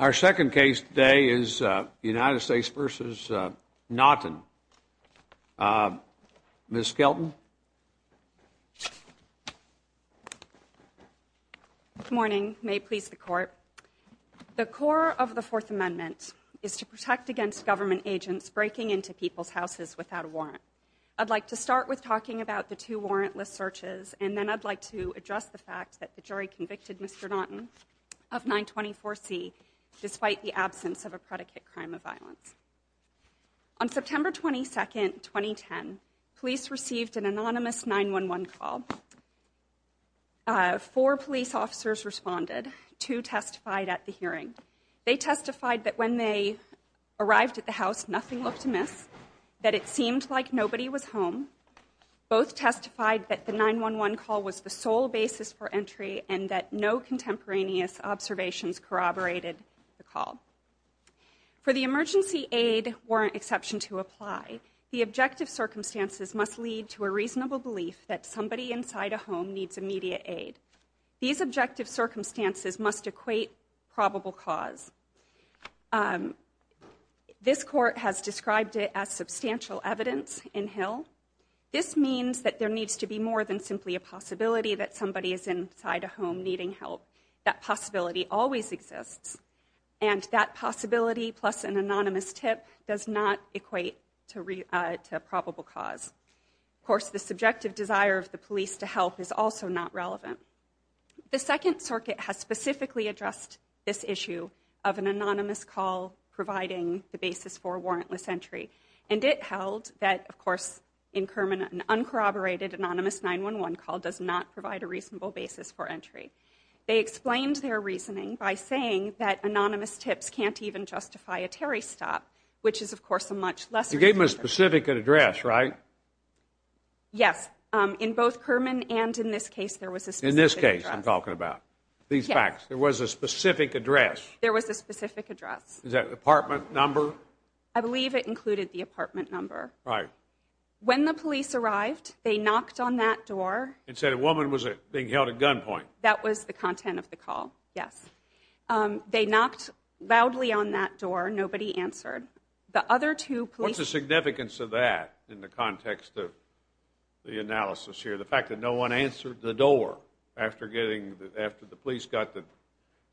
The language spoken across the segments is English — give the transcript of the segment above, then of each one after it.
Our second case today is United States v. Naughton, Ms. Skelton. Good morning. May it please the Court. The core of the Fourth Amendment is to protect against government agents breaking into people's houses without a warrant. I'd like to start with talking about the two warrantless searches and then I'd like to address the fact that the jury convicted Mr. Naughton of 924C despite the absence of a predicate crime of violence. On September 22, 2010, police received an anonymous 911 call. Four police officers responded, two testified at the hearing. They testified that when they arrived at the house, nothing looked amiss, that it seemed like nobody was home. Both testified that the 911 call was the sole basis for entry and that no contemporaneous observations corroborated the call. For the emergency aid warrant exception to apply, the objective circumstances must lead to a reasonable belief that somebody inside a home needs immediate aid. These objective circumstances must equate probable cause. This Court has described it as substantial evidence in Hill. This means that there needs to be more than simply a possibility that somebody is inside a home needing help. That possibility always exists. And that possibility plus an anonymous tip does not equate to probable cause. Of course, the subjective desire of the police to help is also not relevant. The Second Circuit has specifically addressed this issue of an anonymous call providing the basis for warrantless entry. And it held that, of course, in Kerman, an uncorroborated anonymous 911 call does not provide a reasonable basis for entry. They explained their reasoning by saying that anonymous tips can't even justify a Terry stop, which is, of course, a much less... You gave them a specific address, right? Yes. In both Kerman and in this case, there was a specific address. In this case, you're talking about. In fact, there was a specific address. There was a specific address. Is that apartment number? I believe it included the apartment number. Right. When the police arrived, they knocked on that door... And said a woman was being held at gunpoint. That was the content of the call, yes. They knocked loudly on that door. Nobody answered. The other two police... What's the significance of that in the context of the analysis here? The fact that no one answered the door after the police got the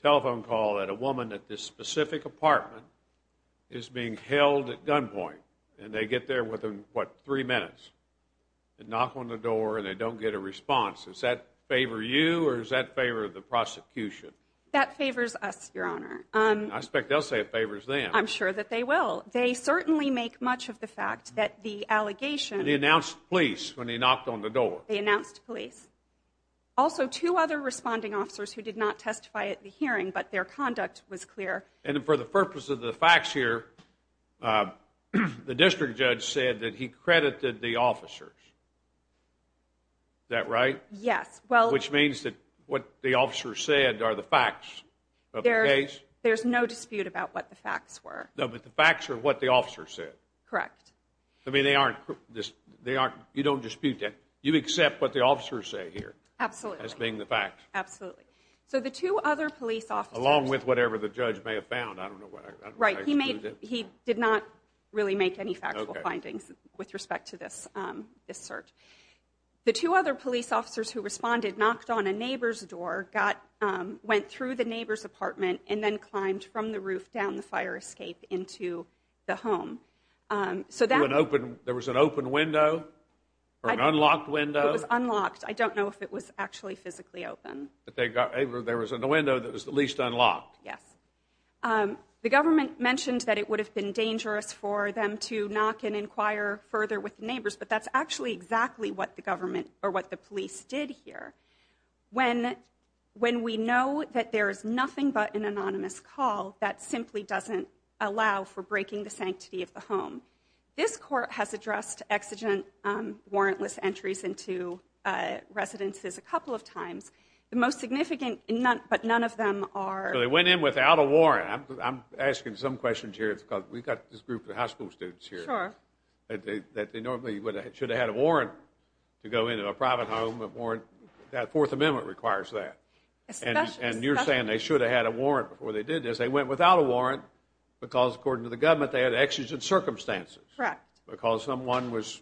telephone call that a woman at this specific apartment is being held at gunpoint. And they get there within, what, three minutes. They knock on the door and they don't get a response. Does that favor you or does that favor the prosecution? That favors us, Your Honor. I expect they'll say it favors them. I'm sure that they will. They certainly make much of the fact that the allegation... They announced police when they knocked on the door. They announced police. Also, two other responding officers who did not testify at the hearing, but their conduct was clear. And for the purpose of the facts here, the district judge said that he credited the officers. Is that right? Yes. Which means that what the officers said are the facts of the case? There's no dispute about what the facts were. No, but the facts are what the officers said. Correct. I mean, they aren't... You don't dispute that. You accept what the officers say here. Absolutely. As being the facts. Absolutely. So the two other police officers... Along with whatever the judge may have found. I don't know what... Right. He did not really make any factual findings with respect to this search. The two other police officers who responded knocked on a neighbor's door, went through the neighbor's and climbed from the roof down the fire escape into the home. There was an open window? Or an unlocked window? It was unlocked. I don't know if it was actually physically open. There was a window that was at least unlocked. Yes. The government mentioned that it would have been dangerous for them to knock and inquire further with neighbors, but that's actually exactly what the government or what the police did here. When we know that there is nothing but an anonymous call, that simply doesn't allow for breaking the sanctity of the home. This court has addressed exigent warrantless entries into residences a couple of times. The most significant, but none of them are... They went in without a warrant. I'm asking some questions here because we've got this group of high school students here. Sure. They normally should have had a warrant to go into a private home, but that Fourth Amendment requires that. And you're saying they should have had a warrant before they did this. They went without a warrant because, according to the government, they had exigent circumstances. Correct. Because someone was,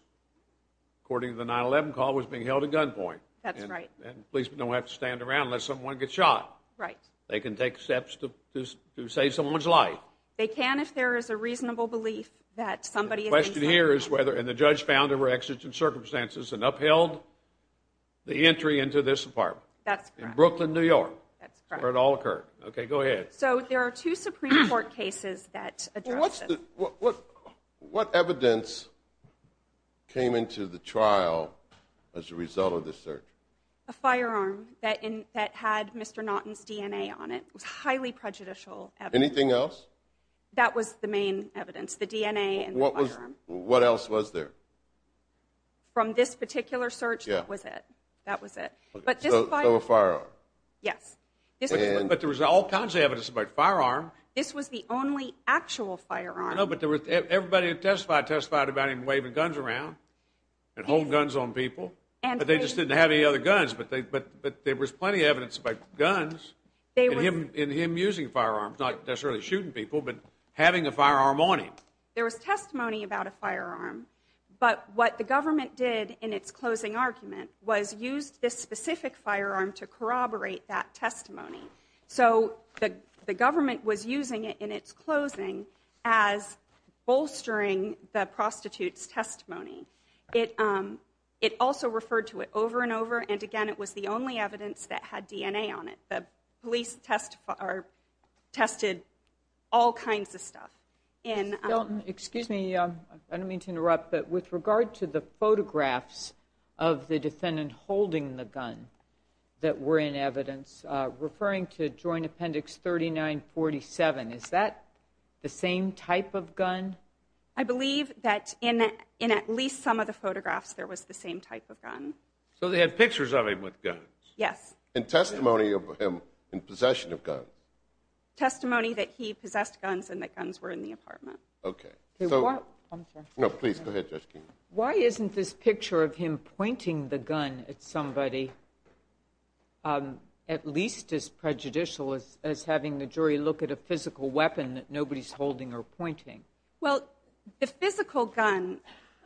according to the 9-11 call, was being held at gunpoint. That's right. And police don't have to stand around unless someone gets shot. Right. They can take steps to save someone's life. They can if there is a reasonable belief that somebody... My question here is whether, and the judge found there were exigent circumstances and upheld the entry into this apartment. That's correct. In Brooklyn, New York, where it all occurred. Okay, go ahead. So there are two Supreme Court cases that address this. What evidence came into the trial as a result of this search? A firearm that had Mr. Naughton's DNA on it. Highly prejudicial evidence. Anything else? That was the main evidence, the DNA and the firearm. What else was there? From this particular search, that was it. That was it. So a firearm. Yes. But there was all kinds of evidence about firearms. This was the only actual firearm. No, but everybody who testified testified about him waving guns around and holding guns on people. But they just didn't have any other guns. But there was plenty of evidence about guns and him using firearms. Not necessarily shooting people, but having a firearm on him. There was testimony about a firearm. But what the government did in its closing argument was use this specific firearm to corroborate that testimony. So the government was using it in its closing as bolstering the prostitute's testimony. It also referred to it over and over. And, again, it was the only evidence that had DNA on it. The police tested all kinds of stuff. Milton, excuse me. I don't mean to interrupt, but with regard to the photographs of the defendant holding the gun that were in evidence, referring to Joint Appendix 3947, is that the same type of gun? I believe that in at least some of the photographs there was the same type of gun. So they had pictures of him with guns? Yes. And testimony of him in possession of guns? Testimony that he possessed guns and that guns were in the apartment. Okay. No, please, go ahead, Justine. Why isn't this picture of him pointing the gun at somebody at least as prejudicial as having the jury look at a physical weapon that nobody's holding or pointing? Well, the physical gun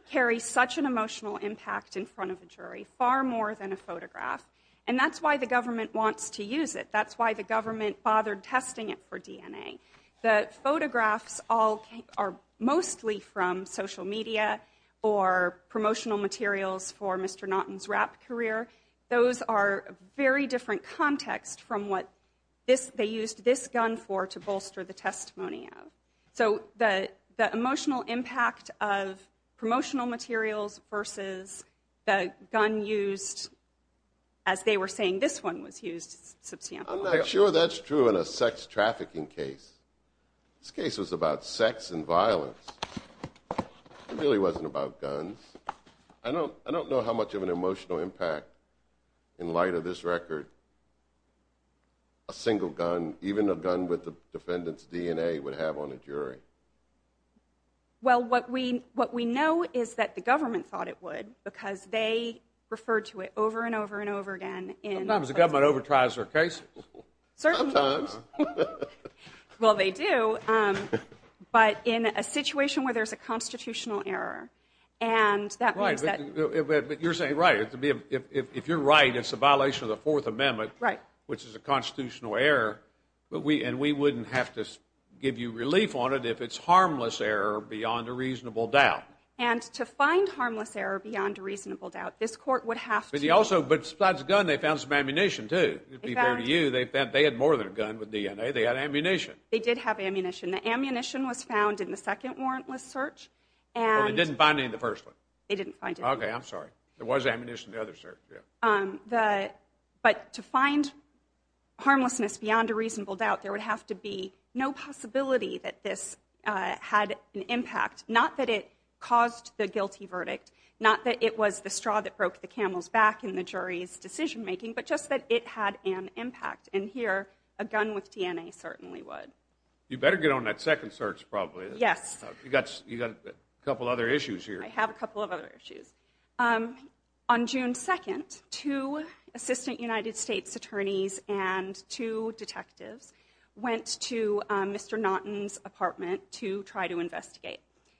carries such an emotional impact in front of the jury, far more than a photograph. And that's why the government wants to use it. That's why the government bothered testing it for DNA. The photographs are mostly from social media or promotional materials for Mr. Naughton's rap career. Those are very different contexts from what they used this gun for to bolster the testimony. So the emotional impact of promotional materials versus the gun used, as they were saying this one was used. I'm not sure that's true in a sex trafficking case. This case is about sex and violence. It really wasn't about guns. I don't know how much of an emotional impact, in light of this record, a single gun, even a gun with the defendant's DNA, would have on a jury. Well, what we know is that the government thought it would, because they referred to it over and over and over again. Sometimes the government over-tries their cases. Sometimes. Well, they do. But in a situation where there's a constitutional error, and that means that... But you're saying, right, if you're right, it's a violation of the Fourth Amendment, which is a constitutional error, and we wouldn't have to give you relief on it if it's harmless error beyond a reasonable doubt. And to find harmless error beyond a reasonable doubt, this court would have to... But they found some ammunition too. They had more than a gun with DNA. They had ammunition. They did have ammunition. The ammunition was found in the second warrantless search. But they didn't find any in the first one. They didn't find any. Okay, I'm sorry. There was ammunition in the other search, yeah. But to find harmlessness beyond a reasonable doubt, there would have to be no possibility that this had an impact. Not that it caused the guilty verdict, not that it was the straw that broke the camel's back in the jury's decision-making, but just that it had an impact. And here, a gun with DNA certainly would. You better get on that second search, probably. Yes. You've got a couple other issues here. I have a couple of other issues. On June 2nd, two assistant United States attorneys and two detectives went to Mr. Naughton's apartment to try to investigate.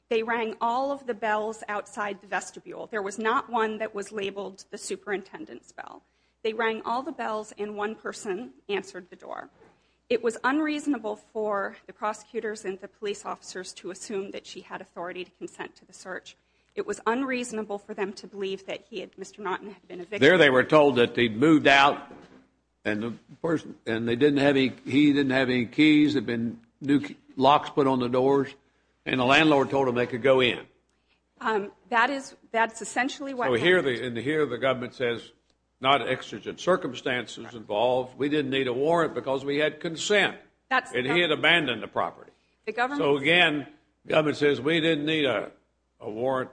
They rang all of the bells outside the vestibule. There was not one that was labeled the superintendent's bell. They rang all the bells, and one person answered the door. It was unreasonable for the prosecutors and the police officers to assume that she had authority to consent to the search. It was unreasonable for them to believe that he and Mr. Naughton had been evicted. There they were told that they'd moved out, and he didn't have any keys. There had been new locks put on the doors, and the landlord told them they could go in. That's essentially what happened. And here the government says, not exigent circumstances involved. We didn't need a warrant because we had consent. And he had abandoned the property. So again, the government says, we didn't need a warrant.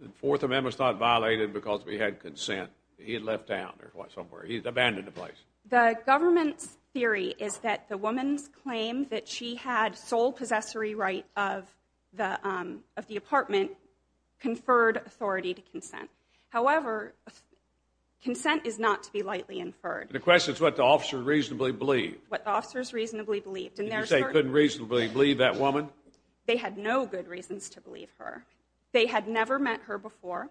The Fourth Amendment's not violated because we had consent. He had left down there somewhere. He's abandoned the place. The government's theory is that the woman's claim that she had sole possessory right of the apartment conferred authority to consent. However, consent is not to be lightly inferred. The question is what the officer reasonably believed. What the officers reasonably believed. Did you say they couldn't reasonably believe that woman? They had no good reasons to believe her. They had never met her before.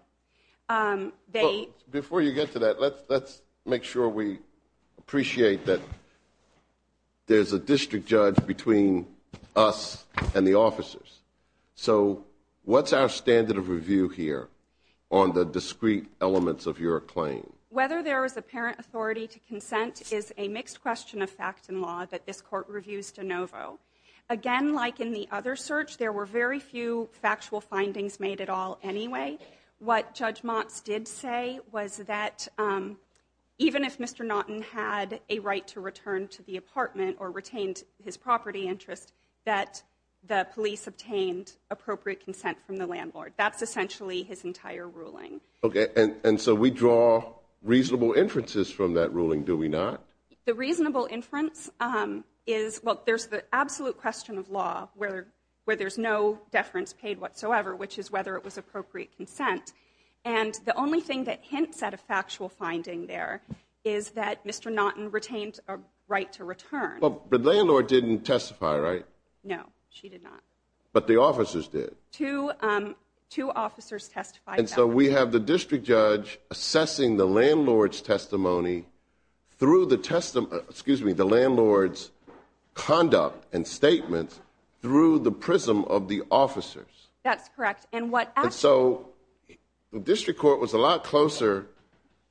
Before you get to that, let's make sure we appreciate that there's a district judge between us and the officers. So what's our standard of review here on the discrete elements of your claim? Whether there is apparent authority to consent is a mixed question of facts and law that this court reviews de novo. Again, like in the other search, there were very few factual findings made at all anyway. What Judge Motz did say was that even if Mr. Naughton had a right to return to the apartment or retained his property interest, that the police obtained appropriate consent from the landlord. That's essentially his entire ruling. Okay, and so we draw reasonable inferences from that ruling, do we not? The reasonable inference is, well, there's the absolute question of law where there's no deference paid whatsoever, which is whether it was appropriate consent. And the only thing that hints at a factual finding there is that Mr. Naughton retained a right to return. But the landlord didn't testify, right? No, she did not. But the officers did. Two officers testified. And so we have the district judge assessing the landlord's testimony through the landlord's conduct and statements through the prism of the officers. That's correct. And so the district court was a lot closer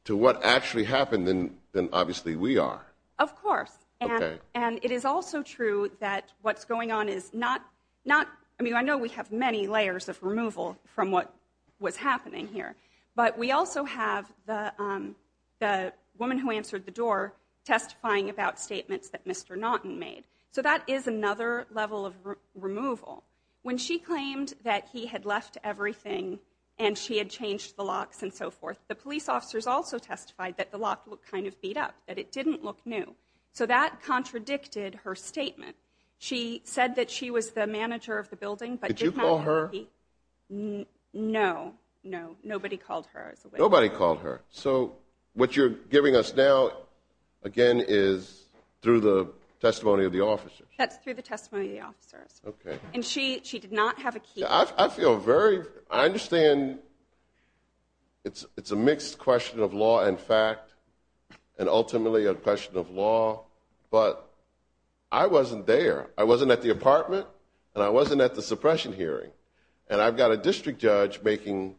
to what actually happened than obviously we are. Of course. And it is also true that what's going on is not – I mean, I know we have many layers of removal from what's happening here. But we also have the woman who answered the door testifying about statements that Mr. Naughton made. So that is another level of removal. When she claimed that he had left everything and she had changed the locks and so forth, the police officers also testified that the locks looked kind of beat up, that it didn't look new. So that contradicted her statement. She said that she was the manager of the building but did not – Did you call her? No, no. Nobody called her. Nobody called her. So what you're giving us now, again, is through the testimony of the officers. That's through the testimony of the officers. Okay. And she did not have a key. I feel very – I understand it's a mixed question of law and fact and ultimately a question of law. But I wasn't there. I wasn't at the apartment and I wasn't at the suppression hearing. And I've got a district judge making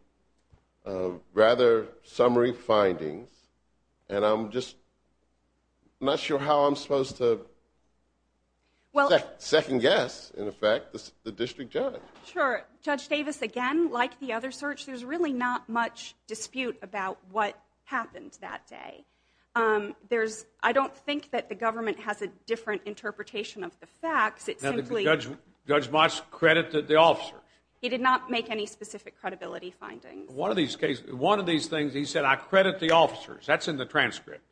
rather summary findings, and I'm just not sure how I'm supposed to second guess, in effect, the district judge. Sure. Judge Davis, again, like the other search, there's really not much dispute about what happened that day. I don't think that the government has a different interpretation of the facts. Judge Moss credited the officers. He did not make any specific credibility findings. One of these things he said, I credit the officers. That's in the transcript.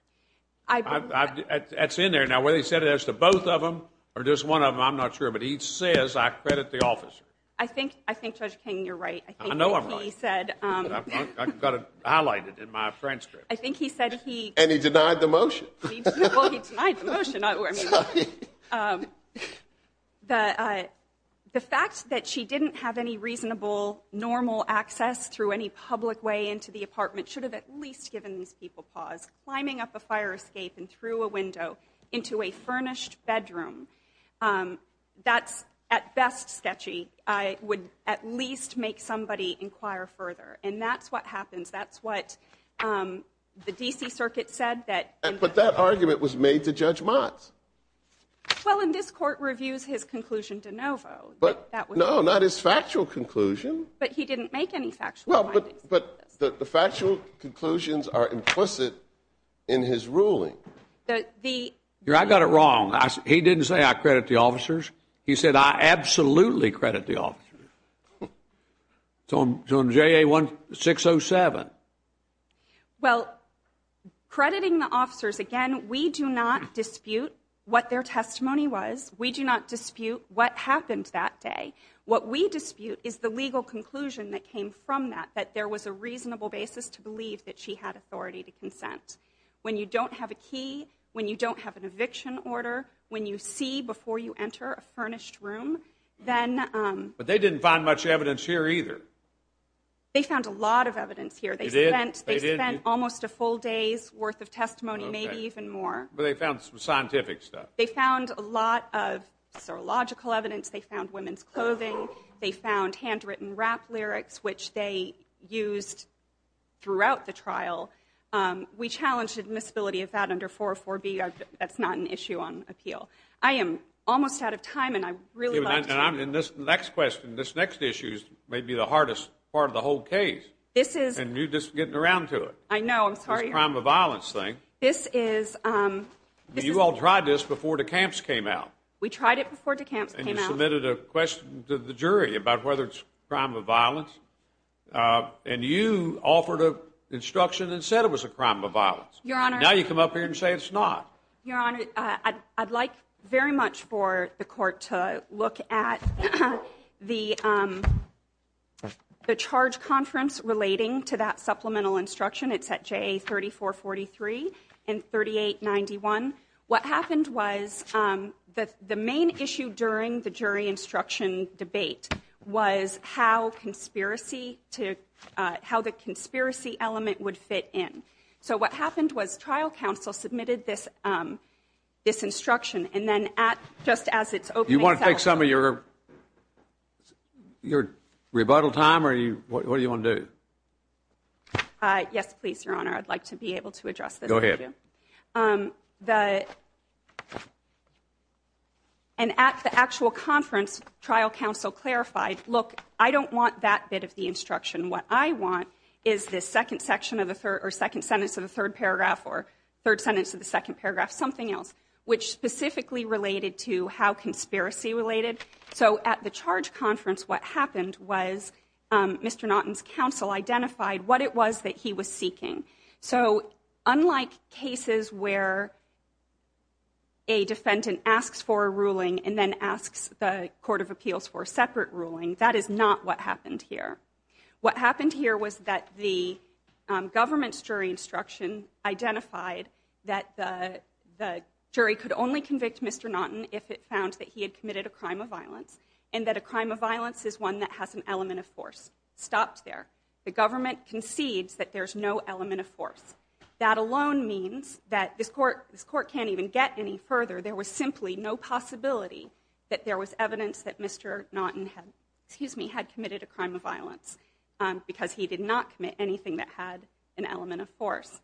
That's in there. Now, whether he said it as to both of them or just one of them, I'm not sure, but he says I credit the officers. I think, Judge King, you're right. I know I'm right. I think he said – I've got it highlighted in my transcript. I think he said he – And he denied the motion. Well, he denied the motion, either way. The fact that she didn't have any reasonable normal access through any public way into the apartment should have at least given these people pause. Climbing up a fire escape and through a window into a furnished bedroom, that's at best sketchy. It would at least make somebody inquire further. And that's what happened. That's what the D.C. Circuit said. But that argument was made to Judge Mott. Well, and this court reviews his conclusion de novo. No, not his factual conclusion. But he didn't make any factual – Well, but the factual conclusions are implicit in his ruling. I got it wrong. He didn't say I credit the officers. He said I absolutely credit the officers. It's on JA-607. Well, crediting the officers, again, we do not dispute what their testimony was. We do not dispute what happened that day. What we dispute is the legal conclusion that came from that, that there was a reasonable basis to believe that she had authority to consent. When you don't have a key, when you don't have an eviction order, when you see before you enter a furnished room, then – But they didn't find much evidence here, either. They found a lot of evidence here. They did? They spent almost a full day's worth of testimony, maybe even more. But they found some scientific stuff. They found a lot of, sort of, logical evidence. They found women's clothing. They found handwritten rap lyrics, which they used throughout the trial. We challenged admissibility of that under 404B. That's not an issue on appeal. I am almost out of time, and I'd really like – And this next question, this next issue, may be the hardest part of the whole case. And you're just getting around to it. I know. I'm sorry. The crime of violence thing. This is – You all tried this before DeCamps came out. We tried it before DeCamps came out. And you submitted a question to the jury about whether it's a crime of violence. And you offered an instruction and said it was a crime of violence. Your Honor – Now you come up here and say it's not. Your Honor, I'd like very much for the court to look at the charge conference relating to that supplemental instruction. It's at JA 3443 and 3891. What happened was the main issue during the jury instruction debate was how the conspiracy element would fit in. So what happened was trial counsel submitted this instruction, and then just as it's opening – You want to take some of your rebuttal time, or what do you want to do? Yes, please, Your Honor. I'd like to be able to address this. Go ahead. And at the actual conference, trial counsel clarified, look, I don't want that bit of the instruction. What I want is the second sentence of the third paragraph or third sentence of the second paragraph, something else, which specifically related to how conspiracy related. So at the charge conference, what happened was Mr. Naughton's counsel identified what it was that he was seeking. So unlike cases where a defendant asks for a ruling and then asks the court of appeals for a separate ruling, that is not what happened here. What happened here was that the government's jury instruction identified that the jury could only convict Mr. Naughton if it found that he had committed a crime of violence and that a crime of violence is one that has an element of force. Stop there. The government concedes that there's no element of force. That alone means that the court can't even get any further. There was simply no possibility that there was evidence that Mr. Naughton had committed a crime of violence because he did not commit anything that had an element of force.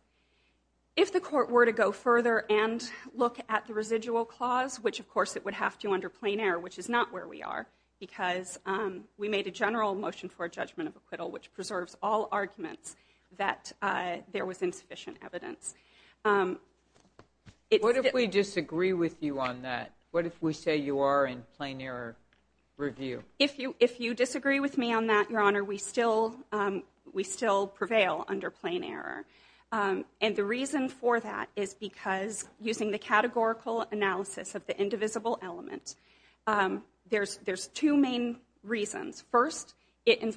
If the court were to go further and look at the residual clause, which of course it would have to under plain air, which is not where we are because we made a general motion for a judgment of acquittal, which preserves all arguments that there was insufficient evidence. What if we disagree with you on that? What if we say you are in plain air review? If you disagree with me on that, Your Honor, we still prevail under plain air. And the reason for that is because using the categorical analysis of the indivisible element, there's two main reasons. In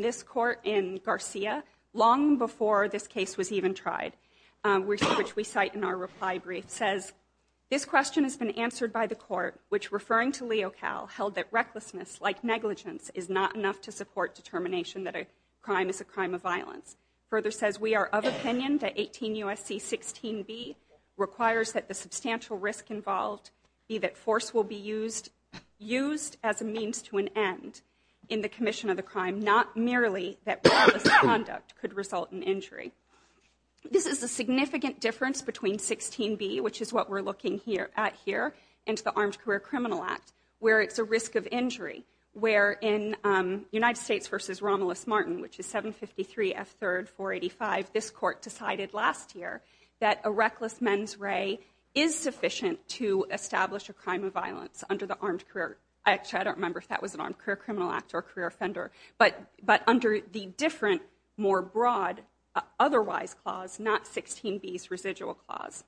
this court, in Garcia, long before this case was even tried, which we cite in our reply brief, says this question has been answered by the court, which referring to Leo Cal held that recklessness like negligence is not enough to support determination that a crime is a crime of violence. Further says we are of opinion that 18 U.S.C. 16B requires that the substantial risk involved be that force will be used as a means to an end in the commission of the crime, not merely that conduct could result in injury. This is a significant difference between 16B, which is what we're looking at here, and the Armed Career Criminal Act, where it's a risk of injury. Where in United States v. Romulus Martin, which is 753 F. 3rd 485, this court decided last year that a reckless mens re is sufficient to establish a crime of violence under the Armed Career, actually I don't remember if that was an Armed Career Criminal Act or a career offender, but under the different more broad otherwise clause, not 16B's residual clause.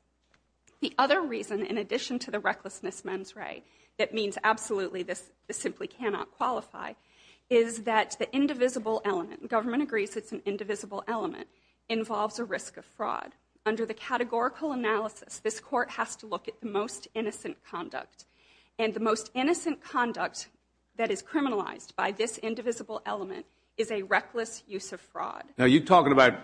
The other reason, in addition to the recklessness mens re, that means absolutely this simply cannot qualify, is that the indivisible element, government agrees it's an indivisible element, involves the risk of fraud. Under the categorical analysis, this court has to look at the most innocent conduct, and the most innocent conduct that is criminalized by this indivisible element is a reckless use of fraud. Now you're talking about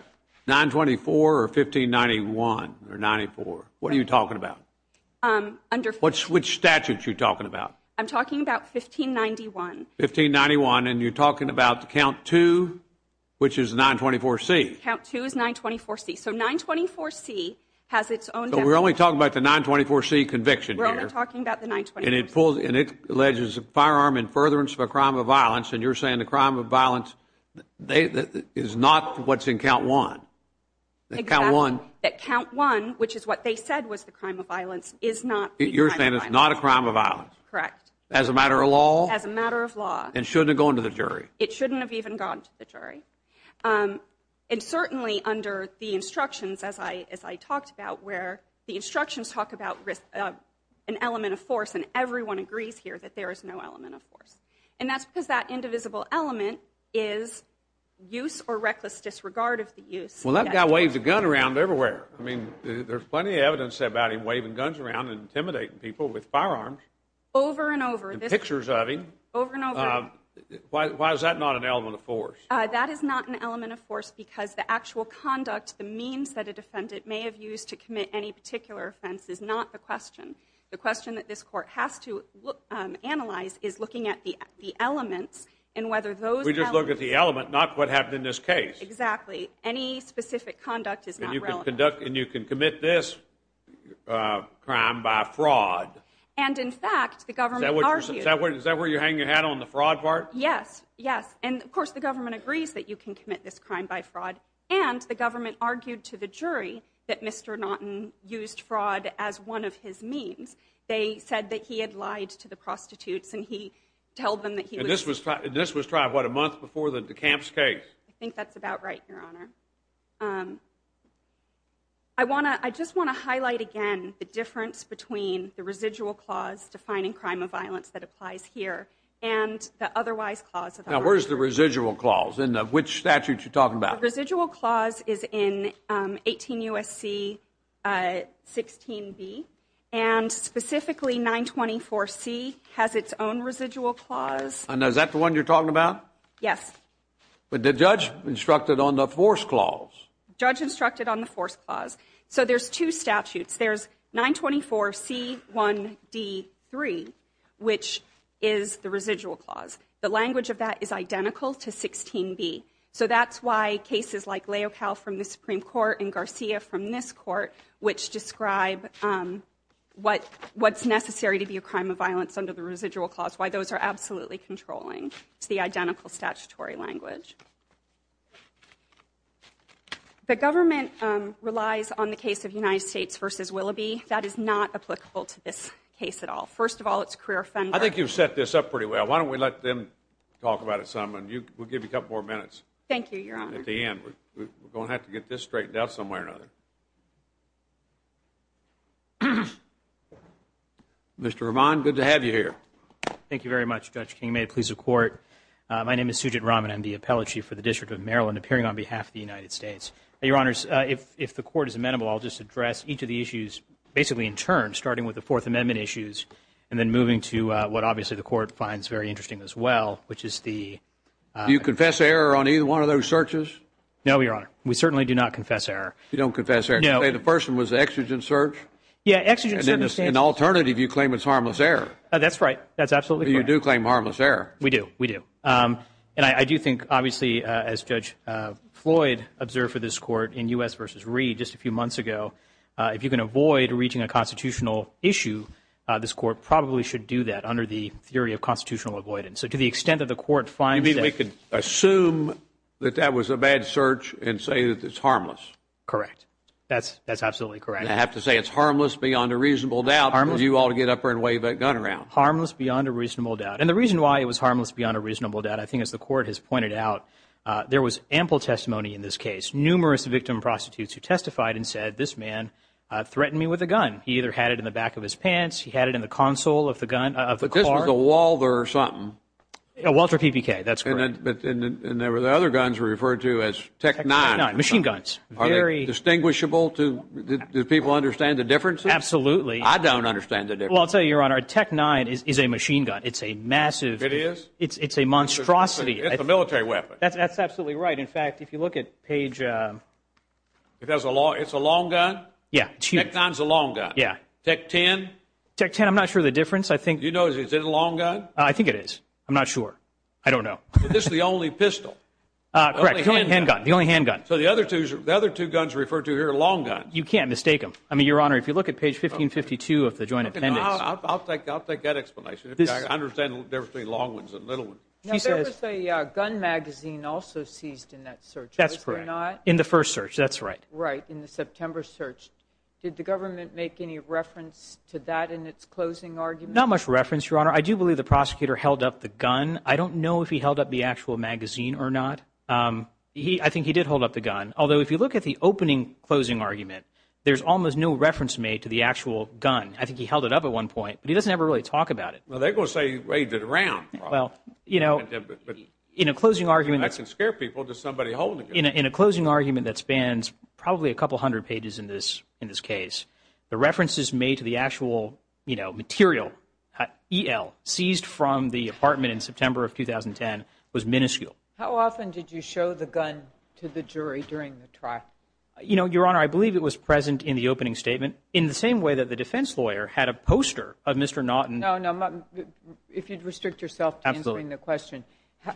924 or 1591 or 94, what are you talking about? Which statute are you talking about? I'm talking about 1591. 1591, and you're talking about count 2, which is 924C. Count 2 is 924C, so 924C has its own definition. So we're only talking about the 924C conviction here. We're only talking about the 924C. And it alleges a firearm in furtherance of a crime of violence, and you're saying the crime of violence is not what's in count 1. Exactly, that count 1, which is what they said was the crime of violence, is not the crime of violence. You're saying it's not a crime of violence. Correct. As a matter of law. As a matter of law. And shouldn't have gone to the jury. It shouldn't have even gone to the jury. And certainly under the instructions, as I talked about, where the instructions talk about an element of force, and everyone agrees here that there is no element of force. And that's because that indivisible element is use or reckless disregard of the use. Well, that guy waved a gun around everywhere. I mean, there's plenty of evidence about him waving guns around and intimidating people with firearms. Over and over. Pictures of him. Over and over. Why is that not an element of force? That is not an element of force because the actual conduct, the means that a defendant may have used to commit any particular offense, is not the question. The question that this court has to analyze is looking at the element and whether those elements. We just look at the element, not what happened in this case. Exactly. Any specific conduct is not relevant. And you can commit this crime by fraud. And, in fact, the government argues. Is that where you hang your hat on, the fraud part? Yes. Yes. And, of course, the government agrees that you can commit this crime by fraud. And the government argued to the jury that Mr. Naughton used fraud as one of his means. They said that he had lied to the prostitutes and he told them that he was. This was probably, what, a month before the Camps case? I think that's about right, Your Honor. I just want to highlight again the difference between the residual clause defining crime of violence that applies here and the otherwise clause. Now, where is the residual clause, and which statute you're talking about? The residual clause is in 18 U.S.C. 16B, and specifically 924C has its own residual clause. And is that the one you're talking about? Yes. But the judge instructed on the force clause. The judge instructed on the force clause. So there's two statutes. There's 924C1B3, which is the residual clause. The language of that is identical to 16B. So that's why cases like Leocal from the Supreme Court and Garcia from this court, which describe what's necessary to be a crime of violence under the residual clause, why those are absolutely controlling. It's the identical statutory language. The government relies on the case of United States v. Willoughby. That is not applicable to this case at all. First of all, it's a career offender. I think you've set this up pretty well. Why don't we let them talk about it some, and we'll give you a couple more minutes. Thank you, Your Honor. At the end. We're going to have to get this straightened out somewhere or another. Mr. Roman, good to have you here. Thank you very much, Judge King. May it please the Court. My name is Sujit Raman. I'm the appellate chief for the District of Maryland, appearing on behalf of the United States. Your Honors, if the Court is amenable, I'll just address each of the issues, basically in turn, starting with the Fourth Amendment issues and then moving to what obviously the Court finds very interesting as well, which is the – Do you confess error on either one of those searches? We certainly do not confess error. You don't confess error on either one of those searches? No. The first one was the exigent search? Yeah, exigent search. And alternative, you claim it's harmless error. That's right. That's absolutely correct. You do claim harmless error. We do. We do. And I do think, obviously, as Judge Floyd observed for this Court in U.S. v. Reed just a few months ago, if you can avoid reaching a constitutional issue, this Court probably should do that under the theory of constitutional avoidance. You mean we can assume that that was a bad search and say that it's harmless? Correct. That's absolutely correct. And I have to say it's harmless beyond a reasonable doubt for you all to get up there and wave that gun around. Harmless beyond a reasonable doubt. And the reason why it was harmless beyond a reasonable doubt, I think as the Court has pointed out, there was ample testimony in this case. Numerous victim and prostitutes who testified and said, this man threatened me with a gun. He either had it in the back of his pants. He had it in the console of the gun – of the car. But this was a Walther or something. A Walther PPK. That's correct. And there were the other guns referred to as Tech-9. Tech-9. Machine guns. Are they distinguishable? Do people understand the difference? Absolutely. I don't understand the difference. Well, I'll tell you, Your Honor, Tech-9 is a machine gun. It's a massive – It is? It's a monstrosity. It's a military weapon. That's absolutely right. In fact, if you look at page – It's a long gun? Yeah. Tech-9's a long gun. Yeah. Tech-10? Tech-10, I'm not sure the difference. Do you know if it's a long gun? I think it is. I'm not sure. I don't know. Is this the only pistol? Correct. It's the only handgun. The only handgun. So the other two guns referred to here are long guns. You can't mistake them. I mean, Your Honor, if you look at page 1552 of the Joint Appendix – I'll take that explanation. I understand they're between long ones and little ones. Now, there was a gun magazine also seized in that search, was there not? That's correct. In the first search, that's right. Right, in the September search. Did the government make any reference to that in its closing argument? Not much reference, Your Honor. I do believe the prosecutor held up the gun. I don't know if he held up the actual magazine or not. I think he did hold up the gun. Although, if you look at the opening closing argument, there's almost no reference made to the actual gun. I think he held it up at one point, but he doesn't ever really talk about it. Well, they both say he waved it around. Well, you know, in a closing argument – I can scare people to somebody holding it. In a closing argument that spans probably a couple hundred pages in this case, the references made to the actual, you know, material, EL, seized from the apartment in September of 2010, was minuscule. How often did you show the gun to the jury during the trial? You know, Your Honor, I believe it was present in the opening statement in the same way that the defense lawyer had a poster of Mr. Naughton. No, no, if you'd restrict yourself to answering the question,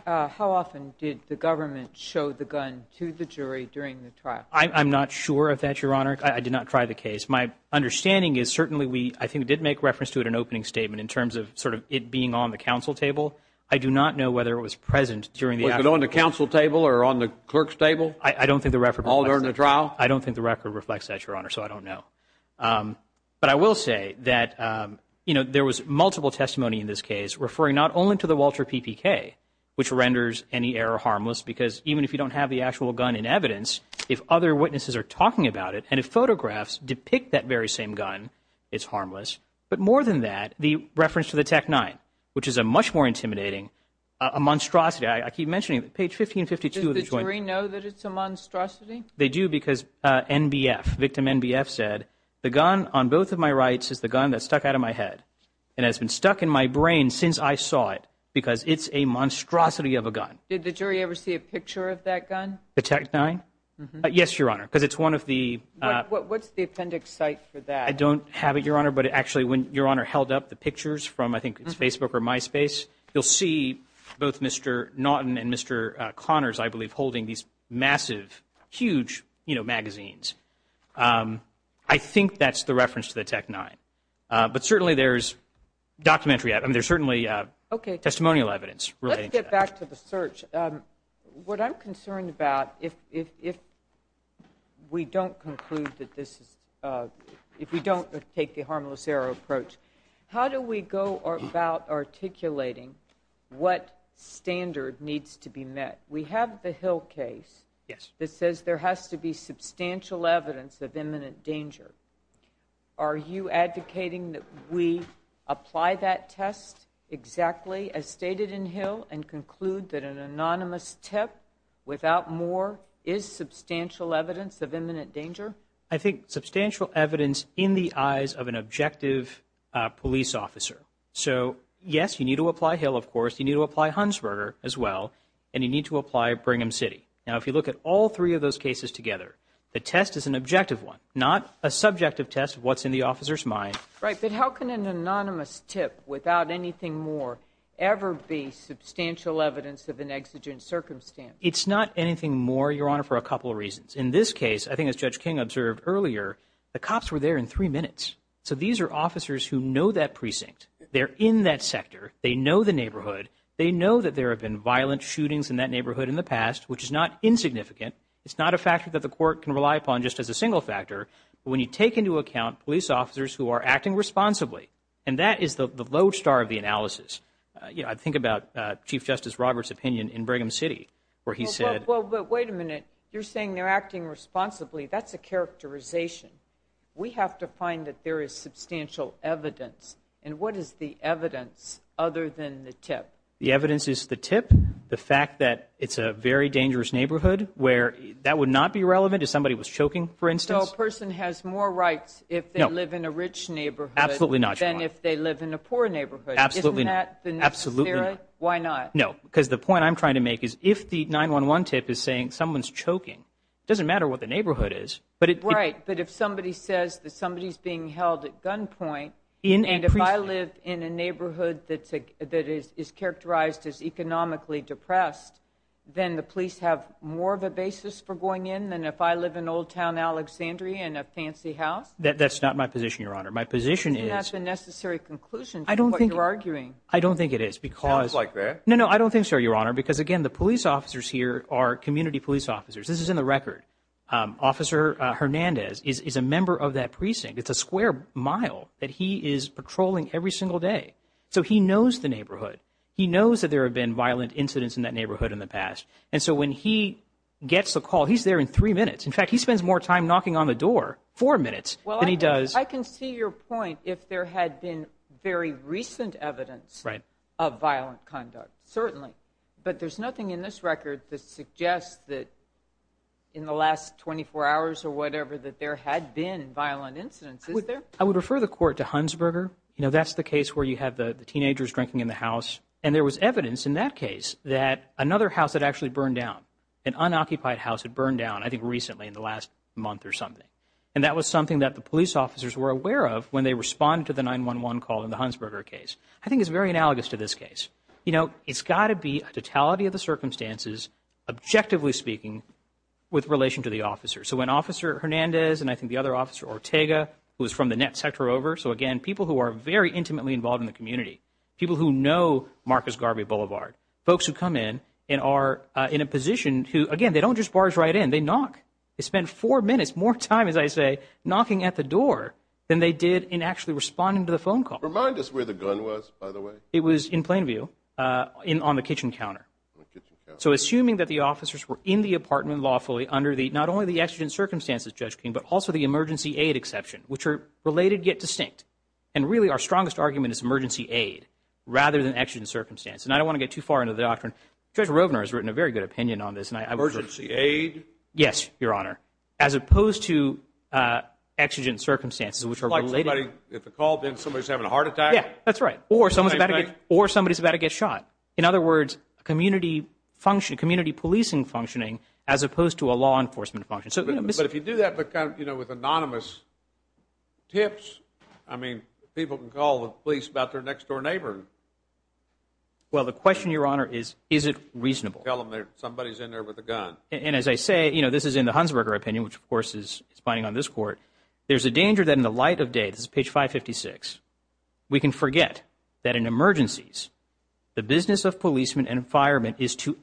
how often did the government show the gun to the jury during the trial? I'm not sure of that, Your Honor. I did not try the case. My understanding is certainly we, I think, did make reference to it in an opening statement in terms of sort of it being on the counsel table. I do not know whether it was present during the actual trial. Was it on the counsel table or on the clerk's table? I don't think the record reflects that. All during the trial? I don't think the record reflects that, Your Honor, so I don't know. But I will say that, you know, there was multiple testimony in this case referring not only to the Walter PPK, which renders any error harmless, because even if you don't have the actual gun in evidence, if other witnesses are talking about it and if photographs depict that very same gun, it's harmless. But more than that, the reference to the TEC-9, which is a much more intimidating, a monstrosity. I keep mentioning, page 1552 of the joint… Did the jury know that it's a monstrosity? They do because NBF, victim NBF said, the gun on both of my rights is the gun that stuck out of my head and has been stuck in my brain since I saw it because it's a monstrosity of a gun. Did the jury ever see a picture of that gun? The TEC-9? Yes, Your Honor, because it's one of the… What's the appendix site for that? I don't have it, Your Honor, but actually when Your Honor held up the pictures from I think it's Facebook or MySpace, you'll see both Mr. Naughton and Mr. Connors, I believe, holding these massive, huge, you know, magazines. I think that's the reference to the TEC-9. But certainly there's documentary… I mean, there's certainly testimonial evidence relating to that. Let's get back to the search. What I'm concerned about, if we don't conclude that this is… if we don't take the harmless error approach, how do we go about articulating what standard needs to be met? We have the Hill case that says there has to be substantial evidence of imminent danger. Are you advocating that we apply that test exactly as stated in Hill and conclude that an anonymous tip without more is substantial evidence of imminent danger? I think substantial evidence in the eyes of an objective police officer. So, yes, you need to apply Hill, of course. You need to apply Hunsberger as well, and you need to apply Brigham City. Now, if you look at all three of those cases together, the test is an objective one, not a subjective test of what's in the officer's mind. Right, but how can an anonymous tip without anything more ever be substantial evidence of an exigent circumstance? It's not anything more, Your Honor, for a couple of reasons. In this case, I think as Judge King observed earlier, the cops were there in three minutes. So these are officers who know that precinct. They're in that sector. They know the neighborhood. They know that there have been violent shootings in that neighborhood in the past, which is not insignificant. It's not a factor that the court can rely upon just as a single factor. But when you take into account police officers who are acting responsibly, and that is the lodestar of the analysis. You know, I think about Chief Justice Roberts' opinion in Brigham City where he said— Well, but wait a minute. You're saying they're acting responsibly. That's a characterization. We have to find that there is substantial evidence. And what is the evidence other than the tip? The evidence is the tip, the fact that it's a very dangerous neighborhood where that would not be relevant if somebody was choking, for instance. So a person has more rights if they live in a rich neighborhood… Absolutely not, Your Honor. …than if they live in a poor neighborhood. Absolutely not. Isn't that the necessary? Absolutely not. Why not? No, because the point I'm trying to make is if the 911 tip is saying someone's choking, it doesn't matter what the neighborhood is. Right, but if somebody says that somebody's being held at gunpoint… In a precinct. …and if I live in a neighborhood that is characterized as economically depressed, then the police have more of a basis for going in than if I live in Old Town Alexandria in a fancy house? That's not my position, Your Honor. My position is… You have the necessary conclusion to what you're arguing. I don't think it is because… Sounds like that. No, no, I don't think so, Your Honor, because, again, the police officers here are community police officers. This is in the record. Officer Hernandez is a member of that precinct. It's a square mile that he is patrolling every single day. So he knows the neighborhood. He knows that there have been violent incidents in that neighborhood in the past. And so when he gets the call, he's there in three minutes. In fact, he spends more time knocking on the door, four minutes, than he does… Well, I can see your point if there had been very recent evidence of violent conduct. Certainly. But there's nothing in this record that suggests that in the last 24 hours or whatever that there had been violent incidents, is there? I would refer the court to Hunsberger. You know, that's the case where you have the teenagers drinking in the house. And there was evidence in that case that another house had actually burned down, an unoccupied house had burned down, I think, recently in the last month or something. And that was something that the police officers were aware of when they responded to the 911 call in the Hunsberger case. I think it's very analogous to this case. You know, it's got to be a totality of the circumstances, objectively speaking, with relation to the officers. So when Officer Hernandez and I think the other officer, Ortega, who is from the net sector over, so, again, people who are very intimately involved in the community, people who know Marcus Garvey Boulevard, folks who come in and are in a position to, again, they don't just barge right in. They knock. They spend four minutes, more time, as I say, knocking at the door than they did in actually responding to the phone call. Remind us where the gun was, by the way. It was in Plainview on the kitchen counter. So assuming that the officers were in the apartment lawfully under not only the emergency aid exception, which are related yet distinct, and really our strongest argument is emergency aid rather than exigent circumstances. And I don't want to get too far into the doctrine. Judge Rovner has written a very good opinion on this. Emergency aid? Yes, Your Honor, as opposed to exigent circumstances, which are related. Somebody gets a call, then somebody's having a heart attack? Yeah, that's right. Or somebody's about to get shot. In other words, community policing functioning as opposed to a law enforcement function. But if you do that with anonymous tips, I mean, people can call the police about their next-door neighbor. Well, the question, Your Honor, is, is it reasonable? Tell them somebody's in there with a gun. And as I say, you know, this is in the Hunsberger opinion, which, of course, is spying on this court. There's a danger that in the light of day, this is page 556, we can forget that in emergencies the business of policemen and firemen is to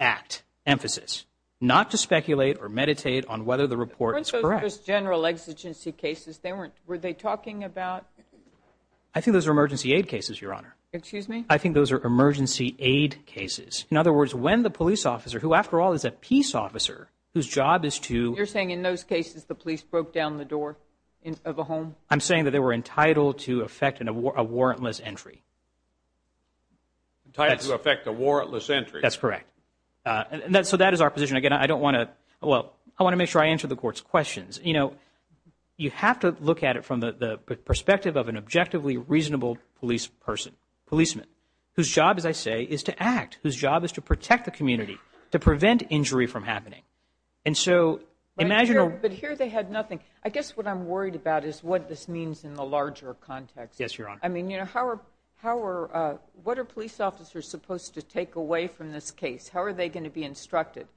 not to speculate or meditate on whether the report is correct. Weren't those just general exigency cases? Were they talking about? I think those are emergency aid cases, Your Honor. Excuse me? I think those are emergency aid cases. In other words, when the police officer, who, after all, is a peace officer, whose job is to – You're saying in those cases the police broke down the door of a home? I'm saying that they were entitled to effect a warrantless entry. Entitled to effect a warrantless entry. That's correct. So that is our position. Again, I don't want to – well, I want to make sure I answer the court's questions. You know, you have to look at it from the perspective of an objectively reasonable police person, policeman, whose job, as I say, is to act, whose job is to protect the community, to prevent injury from happening. And so imagine a – But here they had nothing. I guess what I'm worried about is what this means in the larger context. Yes, Your Honor. I mean, you know, how are – what are police officers supposed to take away from this case? How are they going to be instructed?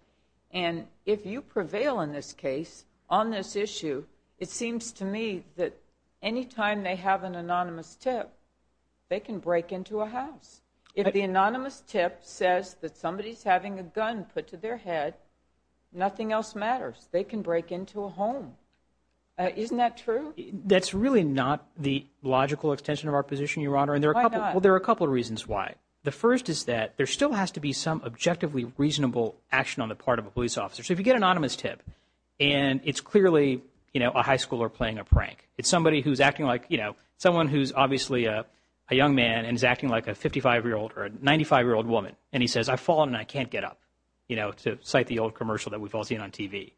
And if you prevail in this case on this issue, it seems to me that anytime they have an anonymous tip, they can break into a house. If the anonymous tip says that somebody is having a gun put to their head, nothing else matters. They can break into a home. Isn't that true? That's really not the logical extension of our position, Your Honor. Why not? Well, there are a couple of reasons why. The first is that there still has to be some objectively reasonable action on the part of a police officer. So if you get an anonymous tip and it's clearly a high schooler playing a prank, it's somebody who's acting like – someone who's obviously a young man and is acting like a 55-year-old or a 95-year-old woman, and he says, I've fallen and I can't get up, you know, to cite the old commercial that we've all seen on TV.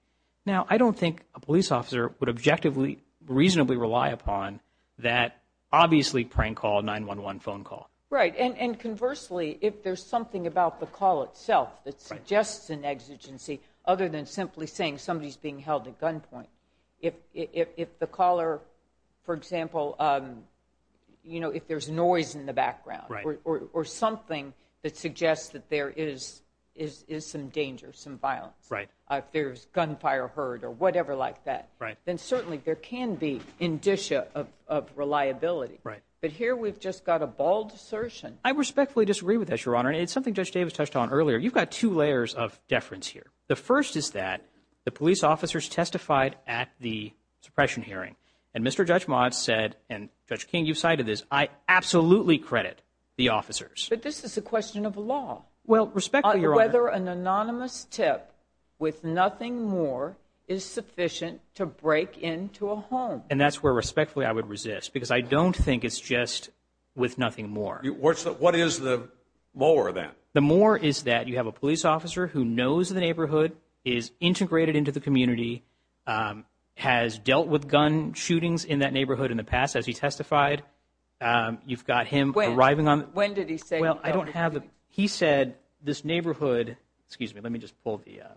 Now, I don't think a police officer would objectively reasonably rely upon that obviously prank call 911 phone call. Right. And conversely, if there's something about the call itself that suggests an exigency other than simply saying somebody's being held at gunpoint, if the caller, for example, you know, if there's noise in the background or something that suggests that there is some danger, some violence, if there's gunfire heard or whatever like that, then certainly there can be indicia of reliability. Right. But here we've just got a bald assertion. I respectfully disagree with this, Your Honor. It's something Judge Davis touched on earlier. You've got two layers of deference here. The first is that the police officers testified at the suppression hearing, and Mr. Judge Mott said, and Judge King, you cited this, I absolutely credit the officers. But this is a question of law. Well, respectfully, Your Honor. Whether an anonymous tip with nothing more is sufficient to break into a home. And that's where respectfully I would resist, because I don't think it's just with nothing more. What is the more then? The more is that you have a police officer who knows the neighborhood, is integrated into the community, has dealt with gun shootings in that neighborhood in the past as he testified. You've got him arriving on the – When did he say? Well, I don't have the – he said this neighborhood – excuse me, let me just pull the –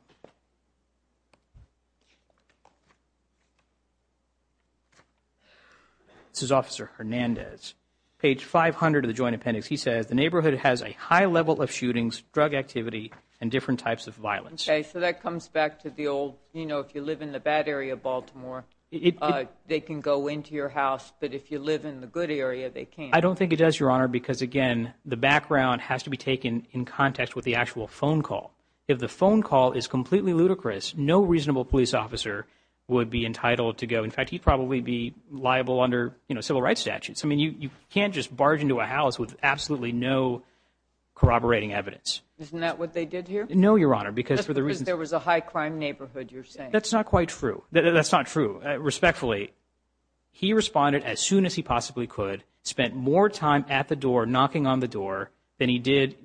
This is Officer Hernandez. Page 500 of the Joint Appendix. He said, the neighborhood has a high level of shootings, drug activity, and different types of violence. Okay. So that comes back to the old, you know, if you live in the bad area of Baltimore, they can go into your house. But if you live in the good area, they can't. I don't think it does, Your Honor, because, again, the background has to be taken in context with the actual phone call. If the phone call is completely ludicrous, no reasonable police officer would be entitled to go. In fact, he'd probably be liable under, you know, civil rights statutes. I mean, you can't just barge into a house with absolutely no corroborating evidence. Isn't that what they did here? No, Your Honor, because for the reason – Because there was a high crime neighborhood, you're saying. That's not quite true. That's not true. Respectfully, he responded as soon as he possibly could, spent more time at the door knocking on the door than he did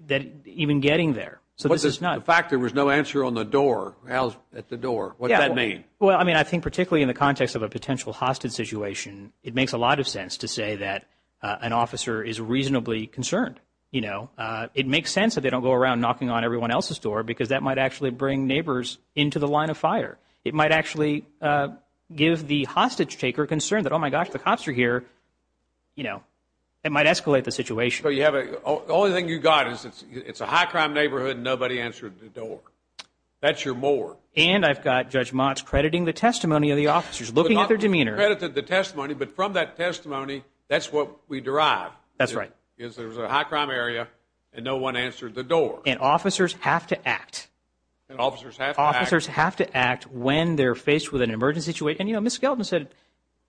even getting there. So this is not – But the fact there was no answer on the door, at the door, what does that mean? Well, I mean, I think particularly in the context of a potential hostage situation, it makes a lot of sense to say that an officer is reasonably concerned, you know. It makes sense that they don't go around knocking on everyone else's door because that might actually bring neighbors into the line of fire. It might actually give the hostage taker concern that, oh, my gosh, the cops are here. You know, it might escalate the situation. So you have a – the only thing you've got is it's a high crime neighborhood and nobody answered the door. That's your more. And I've got Judge Motz crediting the testimony of the officers, looking at their demeanor. Credited the testimony, but from that testimony, that's what we derive. That's right. Because there was a high crime area and no one answered the door. And officers have to act. And officers have to act. Officers have to act when they're faced with an emergency situation. And, you know, Ms. Skelton said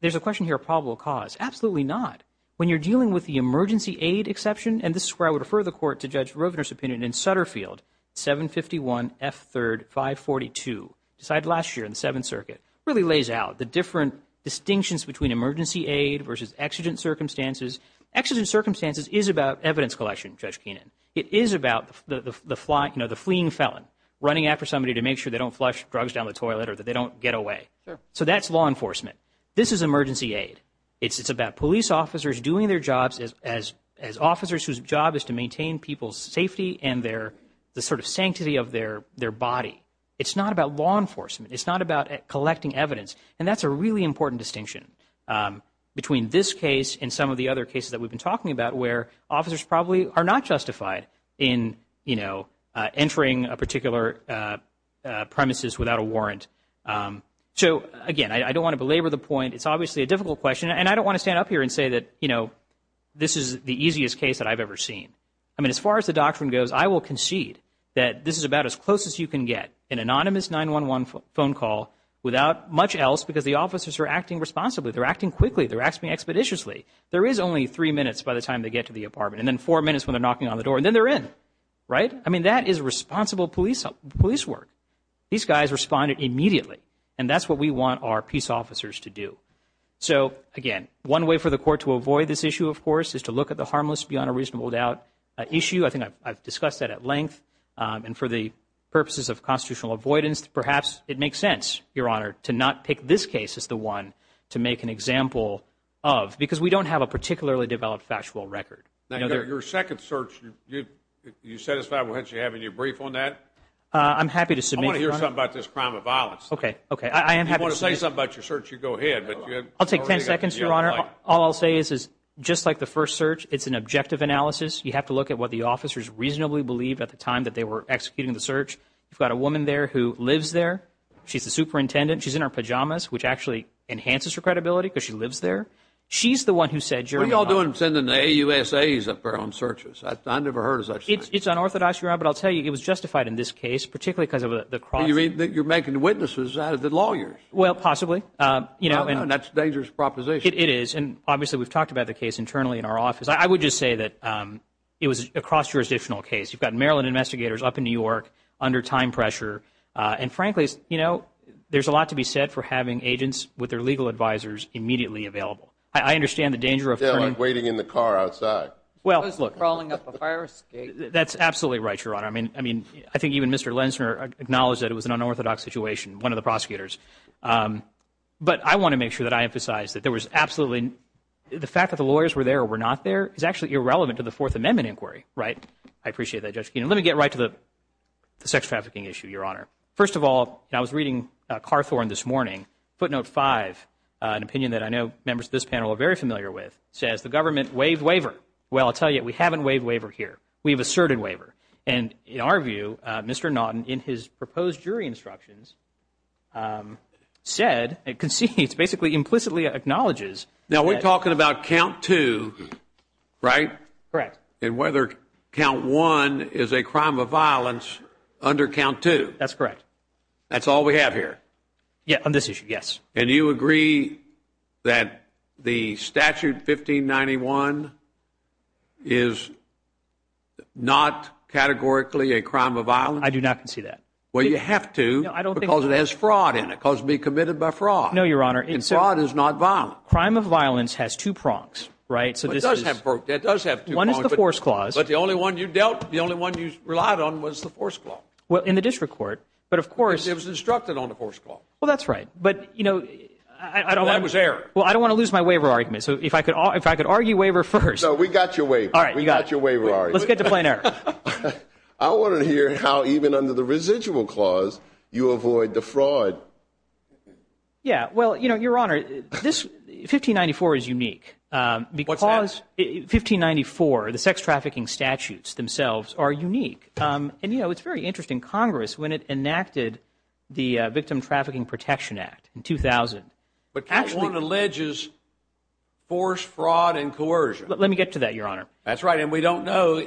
there's a question here of probable cause. Absolutely not. When you're dealing with the emergency aid exception, and this is where I would refer the court to Judge Rovner's opinion in Sutterfield, 751 F. 3rd, 542, decided last year in the Seventh Circuit, really lays out the different distinctions between emergency aid versus exigent circumstances. Exigent circumstances is about evidence collection, Judge Keenan. It is about the fleeing felon running after somebody to make sure they don't flush drugs down the toilet or that they don't get away. So that's law enforcement. This is emergency aid. It's about police officers doing their jobs as officers whose job is to maintain people's safety and the sort of sanctity of their body. It's not about law enforcement. It's not about collecting evidence. And that's a really important distinction between this case and some of the other cases that we've been talking about where officers probably are not justified in, you know, So, again, I don't want to belabor the point. It's obviously a difficult question. And I don't want to stand up here and say that, you know, this is the easiest case that I've ever seen. I mean, as far as the doctrine goes, I will concede that this is about as close as you can get an anonymous 911 phone call without much else because the officers are acting responsibly. They're acting quickly. They're acting expeditiously. There is only three minutes by the time they get to the apartment, and then four minutes when they're knocking on the door, and then they're in. Right? I mean, that is responsible police work. These guys responded immediately. And that's what we want our police officers to do. So, again, one way for the court to avoid this issue, of course, is to look at the harmless beyond a reasonable doubt issue. I think I've discussed that at length. And for the purposes of constitutional avoidance, perhaps it makes sense, Your Honor, to not pick this case as the one to make an example of because we don't have a particularly developed factual record. Your second search, you satisfied with what you have in your brief on that? I'm happy to submit. I want to hear something about this crime of violence. Okay, okay. If you want to say something about your search, you go ahead. I'll take ten seconds, Your Honor. All I'll say is just like the first search, it's an objective analysis. You have to look at what the officers reasonably believed at the time that they were executing the search. You've got a woman there who lives there. She's the superintendent. She's in her pajamas, which actually enhances her credibility because she lives there. She's the one who said, Your Honor. What are you all doing sending the AUSAs up there on searches? I've never heard of such a thing. It's unorthodox, Your Honor, but I'll tell you, it was justified in this case, particularly because of the cross- You mean that you're making witnesses out of the lawyers? Well, possibly. That's a dangerous proposition. It is, and obviously we've talked about the case internally in our office. I would just say that it was a cross-jurisdictional case. You've got Maryland investigators up in New York under time pressure, and frankly, you know, there's a lot to be said for having agents with their legal advisors immediately available. I understand the danger of turning- It's like waiting in the car outside. Well, look- Crawling up the fire escape. That's absolutely right, Your Honor. I mean, I think even Mr. Lensner acknowledged that it was an unorthodox situation, one of the prosecutors. But I want to make sure that I emphasize that there was absolutely- the fact that the lawyers were there or were not there is actually irrelevant to the Fourth Amendment inquiry, right? I appreciate that, Judge Keenan. Let me get right to the sex trafficking issue, Your Honor. First of all, I was reading Carthorne this morning. Footnote 5, an opinion that I know members of this panel are very familiar with, says the government waived waiver. Well, I'll tell you, we haven't waived waiver here. We've asserted waiver. And in our view, Mr. Naughton, in his proposed jury instructions, said and concedes, basically implicitly acknowledges- Now, we're talking about count two, right? Correct. And whether count one is a crime of violence under count two. That's correct. That's all we have here? Yeah, on this issue, yes. And you agree that the statute 1591 is not categorically a crime of violence? I do not concede that. Well, you have to because it has fraud in it. It calls to be committed by fraud. No, Your Honor. And fraud is not violent. Crime of violence has two prongs, right? It does have two prongs. One is the force clause. But the only one you relied on was the force clause. Well, in the district court, but of course- Because it was instructed on the force clause. Well, that's right. But, you know, I don't- That was error. Well, I don't want to lose my waiver argument. So if I could argue waiver first- No, we got your waiver. All right. We got your waiver argument. Let's get to plain error. I want to hear how even under the residual clause you avoid the fraud. Yeah. Well, you know, Your Honor, 1594 is unique because- What's that? 1594, the sex trafficking statutes themselves are unique. And, you know, it's very interesting. Congress, when it enacted the Victim Trafficking Protection Act in 2000- But that one alleges force, fraud, and coercion. Let me get to that, Your Honor. That's right. And we don't know-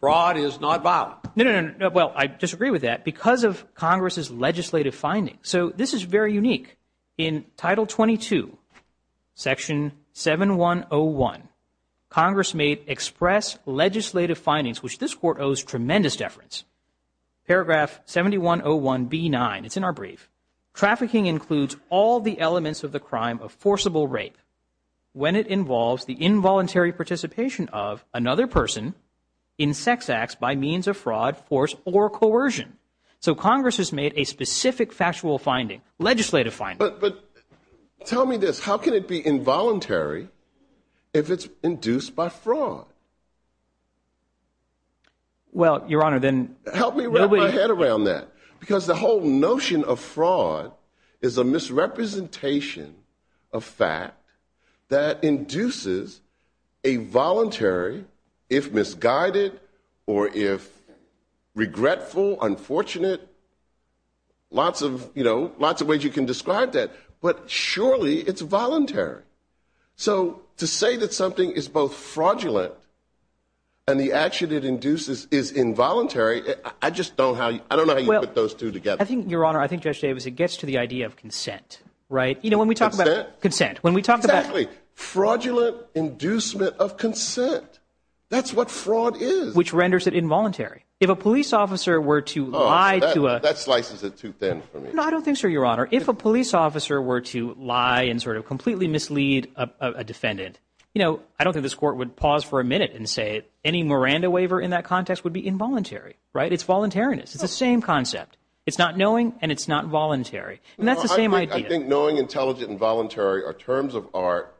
Fraud is not violent. No, no, no. Well, I disagree with that because of Congress's legislative findings. So this is very unique. In Title 22, Section 7101, Congress made express legislative findings, which this Court owes tremendous deference. Paragraph 7101B9, it's in our brief. Trafficking includes all the elements of the crime of forcible rape when it involves the involuntary participation of another person in sex acts by means of fraud, force, or coercion. So Congress has made a specific factual finding, legislative finding. But tell me this. How can it be involuntary if it's induced by fraud? Well, Your Honor, then- Help me wrap my head around that because the whole notion of fraud is a misrepresentation of fact that induces a voluntary, if misguided or if regretful, unfortunate, lots of ways you can describe that. But surely it's voluntary. So to say that something is both fraudulent and the action it induces is involuntary, I just don't know how you put those two together. I think, Your Honor, I think, Judge Davis, it gets to the idea of consent. Consent? Consent. When we talk about- Fraudulent inducement of consent. That's what fraud is. Which renders it involuntary. If a police officer were to lie to a- That slices it too thin for me. I don't think so, Your Honor. If a police officer were to lie and sort of completely mislead a defendant, I don't think this court would pause for a minute and say any Miranda waiver in that context would be involuntary. It's voluntariness. It's the same concept. It's not knowing, and it's not voluntary. And that's the same idea. I think knowing, intelligent, and voluntary are terms of art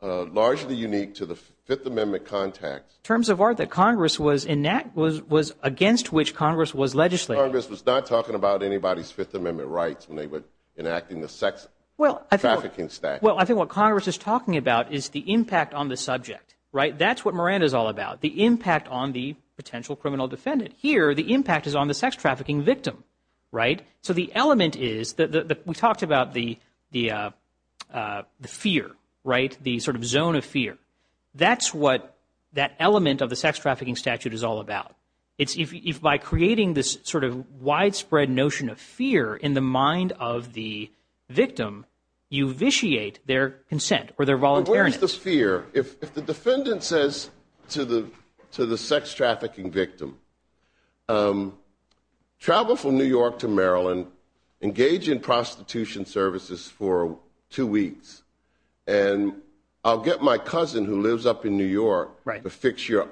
largely unique to the Fifth Amendment context. Terms of art that Congress was against which Congress was legislating. Congress was not talking about anybody's Fifth Amendment rights when they were enacting the sex trafficking statute. Well, I think what Congress is talking about is the impact on the subject. That's what Miranda is all about, the impact on the potential criminal defendant. Here, the impact is on the sex trafficking victim. So the element is, we talked about the fear, the sort of zone of fear. That's what that element of the sex trafficking statute is all about. It's by creating this sort of widespread notion of fear in the mind of the victim, you vitiate their consent or their voluntariness. Where is this fear? If the defendant says to the sex trafficking victim, travel from New York to Maryland, engage in prostitution services for two weeks, and I'll get my cousin who lives up in New York to fix your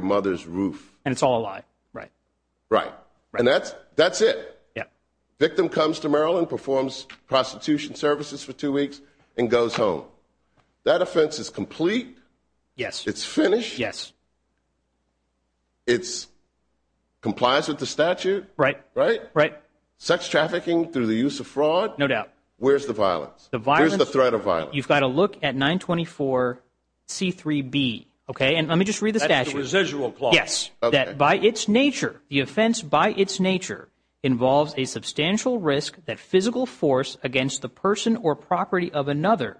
mother's roof. And it's all a lie. Right. Right. And that's it. The victim comes to Maryland, performs prostitution services for two weeks, and goes home. That offense is complete. Yes. It's finished. Yes. It complies with the statute. Right. Right? Right. Sex trafficking through the use of fraud. No doubt. Where's the violence? Where's the threat of violence? You've got to look at 924C3B. And let me just read the statute. That's the residual clause. Yes, that by its nature, the offense by its nature involves a substantial risk that physical force against the person or property of another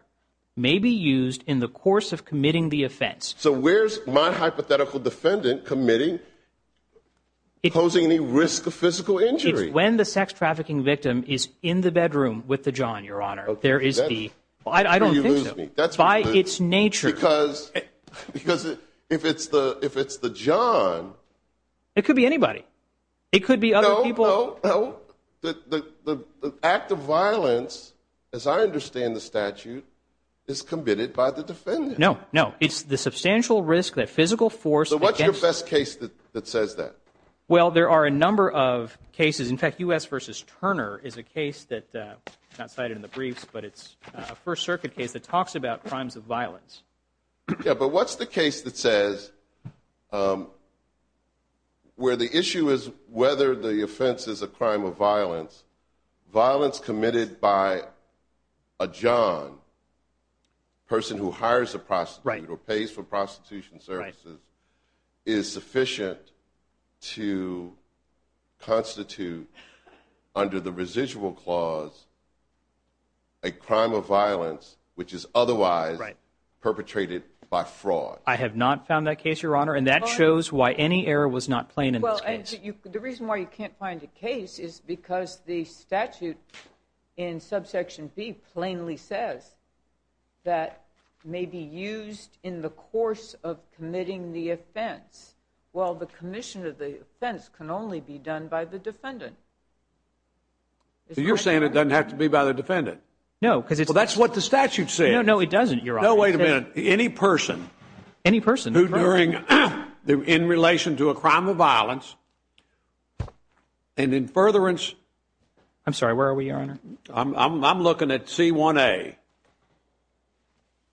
may be used in the course of committing the offense. So where's my hypothetical defendant committing, posing any risk of physical injury? When the sex trafficking victim is in the bedroom with the john, Your Honor, there is the, I don't think so. By its nature. Because if it's the john. It could be anybody. It could be other people. So the act of violence, as I understand the statute, is committed by the defendant. No. No. It's the substantial risk that physical force against. So what's your best case that says that? Well, there are a number of cases. In fact, U.S. v. Turner is a case that's not cited in the brief, but it's a First Circuit case that talks about crimes of violence. Yeah, but what's the case that says where the issue is whether the offense is a crime of violence, violence committed by a john, person who hires a prostitute or pays for prostitution services, is sufficient to constitute under the residual clause a crime of violence, which is otherwise perpetrated by fraud. I have not found that case, Your Honor, and that shows why any error was not plain in this case. Well, the reason why you can't find a case is because the statute in subsection B plainly says that may be used in the course of committing the offense. Well, the commission of the offense can only be done by the defendant. Well, that's what the statute says. No, it doesn't, Your Honor. No, wait a minute. Any person in relation to a crime of violence and in furtherance... I'm sorry, where are we, Your Honor? I'm looking at C1A.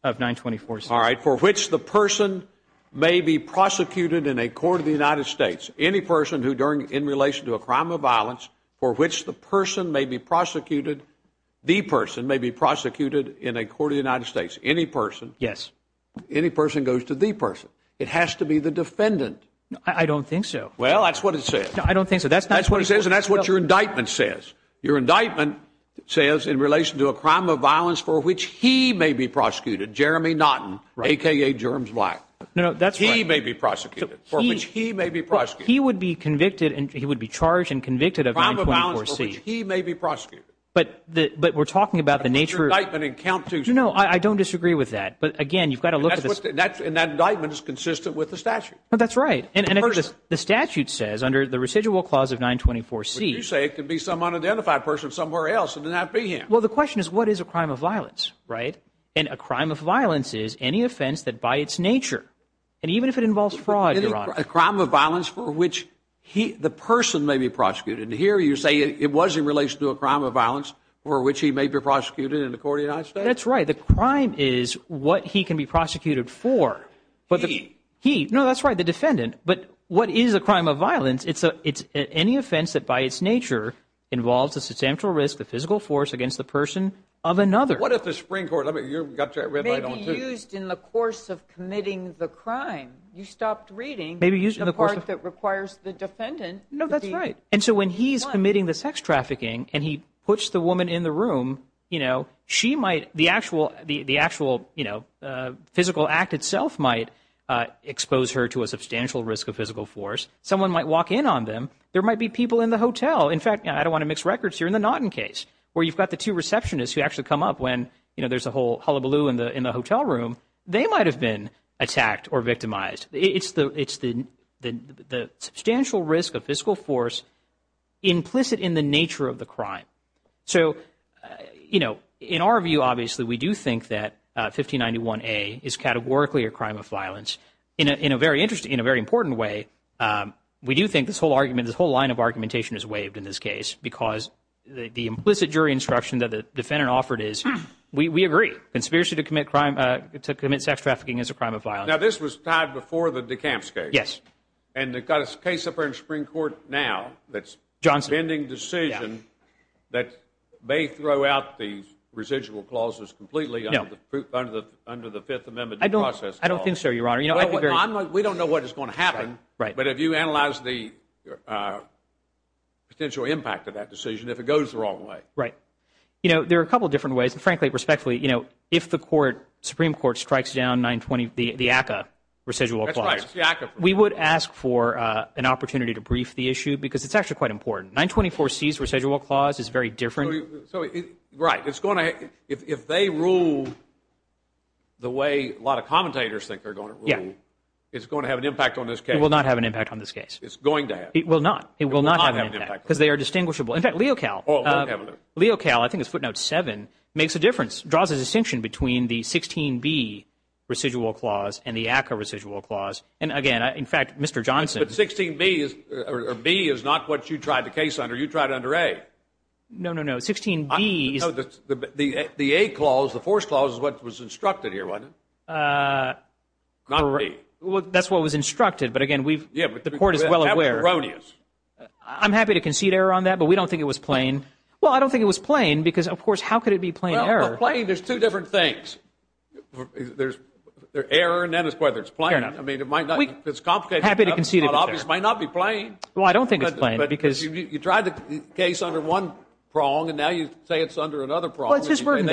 I have 924, sir. All right, for which the person may be prosecuted in a court of the United States, any person in relation to a crime of violence for which the person may be prosecuted, the person may be prosecuted in a court of the United States, any person... Yes. Any person goes to the person. It has to be the defendant. I don't think so. Well, that's what it says. I don't think so. That's what it says, and that's what your indictment says. Your indictment says in relation to a crime of violence for which he may be prosecuted, Jeremy Naughton, a.k.a. Germs Black. No, that's right. He may be prosecuted, for which he may be prosecuted. But he would be convicted and he would be charged and convicted of 924 C... A crime of violence for which he may be prosecuted. But we're talking about the nature of... That's your indictment in count 2 C... No, I don't disagree with that. But, again, you've got to look at the... And that indictment is consistent with the statute. That's right. And the statute says under the residual clause of 924 C... But you say it could be someone or the other person somewhere else. It would not be him. Well, the question is what is a crime of violence, right? And a crime of violence is any offense that by its nature, and even if it involves fraud, Your Honor... A crime of violence for which the person may be prosecuted. And here you're saying it was in relation to a crime of violence for which he may be prosecuted in the court of the United States? That's right. The crime is what he can be prosecuted for. He? He. No, that's right. The defendant. But what is a crime of violence? It's any offense that by its nature involves a substantial risk, a physical force, against the person of another. What if the Supreme Court... Let me... You've got that read by... Maybe used in the course of committing the crime. You stopped reading... Maybe used in the course of...... the part that requires the defendant... No, that's right. And so when he's committing the sex trafficking and he puts the woman in the room, you know, she might... The actual, you know, physical act itself might expose her to a substantial risk of physical force. Someone might walk in on them. There might be people in the hotel. In fact, I don't want to mix records here. In the Naughton case where you've got the two receptionists who actually come up when, you know, there's a whole hullabaloo in the hotel room, they might have been attacked or victimized. It's the substantial risk of physical force implicit in the nature of the crime. So, you know, in our view, obviously, we do think that 1591A is categorically a crime of violence. In a very interesting... in a very important way, we do think this whole argument... this whole line of argumentation is waived in this case because the implicit jury instruction that the defendant offered is, we agree. Conspiracy to commit sex trafficking is a crime of violence. Now, this was tied before the DeKalb case. Yes. And they've got a case up there in Supreme Court now that's... Johnson.... pending decision that may throw out the residual clauses completely under the Fifth Amendment process clause. I don't think so, Your Honor. We don't know what is going to happen, but if you analyze the potential impact of that decision, if it goes the wrong way. Right. You know, there are a couple of different ways, but frankly, respectfully, you know, if the Supreme Court strikes down the ACCA residual clause... That's right. We would ask for an opportunity to brief the issue because it's actually quite important. 924C's residual clause is very different. Right. It's going to... if they rule the way a lot of commentators think they're going to rule... Yes. It's going to have an impact on this case. It will not have an impact on this case. It's going to have. It will not. It will not have an impact. It will not have an impact. Because they are distinguishable. In fact, Leo Cal... Leo Cal, I think it's footnote 7, makes a difference, draws a distinction between the 16B residual clause and the ACCA residual clause. And again, in fact, Mr. Johnson... But 16B or B is not what you tried the case under. You tried under A. No, no, no. 16B... The A clause, the force clause is what was instructed here, wasn't it? Not B. Well, that's what was instructed, but again, we've... Yeah, but the court is well aware... I'm happy to concede error on that, but we don't think it was plain. Well, I don't think it was plain because, of course, how could it be plain error? Well, for plain, there's two different things. There's error and then it's whether it's plain. Fair enough. I mean, it might not... Happy to concede error. It might not be plain. Well, I don't think it's plain because... You tried the case under one prong, and now you say it's under another prong. Well, it's his burden.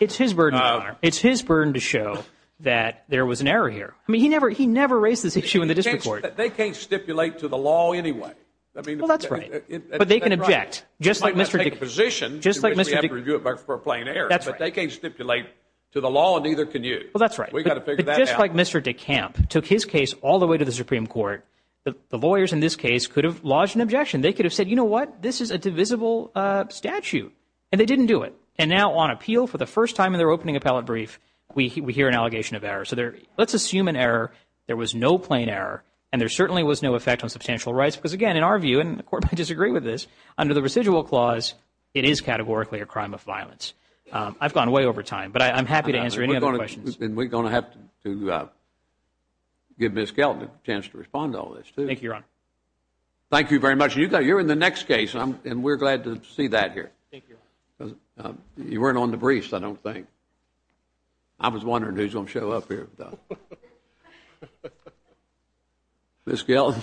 It's his burden. It's his burden to show that there was an error here. I mean, he never raised this issue in the district court. They can't stipulate to the law anyway. I mean... Well, that's right. But they can object. Just like Mr....... might not take a position... Just like Mr....... in which we have to review it for a plain error. That's right. But they can't stipulate to the law, and neither can you. Well, that's right. We've got to figure that out. Just like Mr. DeCamp took his case all the way to the Supreme Court, the lawyers in this case could have lodged an objection. They could have said, you know what, this is a divisible statute, and they didn't do it. And now on appeal for the first time in their opening appellate brief, we hear an allegation of error. So let's assume an error, there was no plain error, and there certainly was no effect on substantial rights. Because, again, in our view, and the court might disagree with this, under the residual clause, it is categorically a crime of violence. I've gone way over time, but I'm happy to answer any other questions. We're going to have to give Ms. Kelton a chance to respond to all this, too. Thank you, Ron. Thank you very much. You're in the next case, and we're glad to see that here. Thank you. You weren't on the briefs, I don't think. I was wondering who was going to show up here. Ms. Kelton.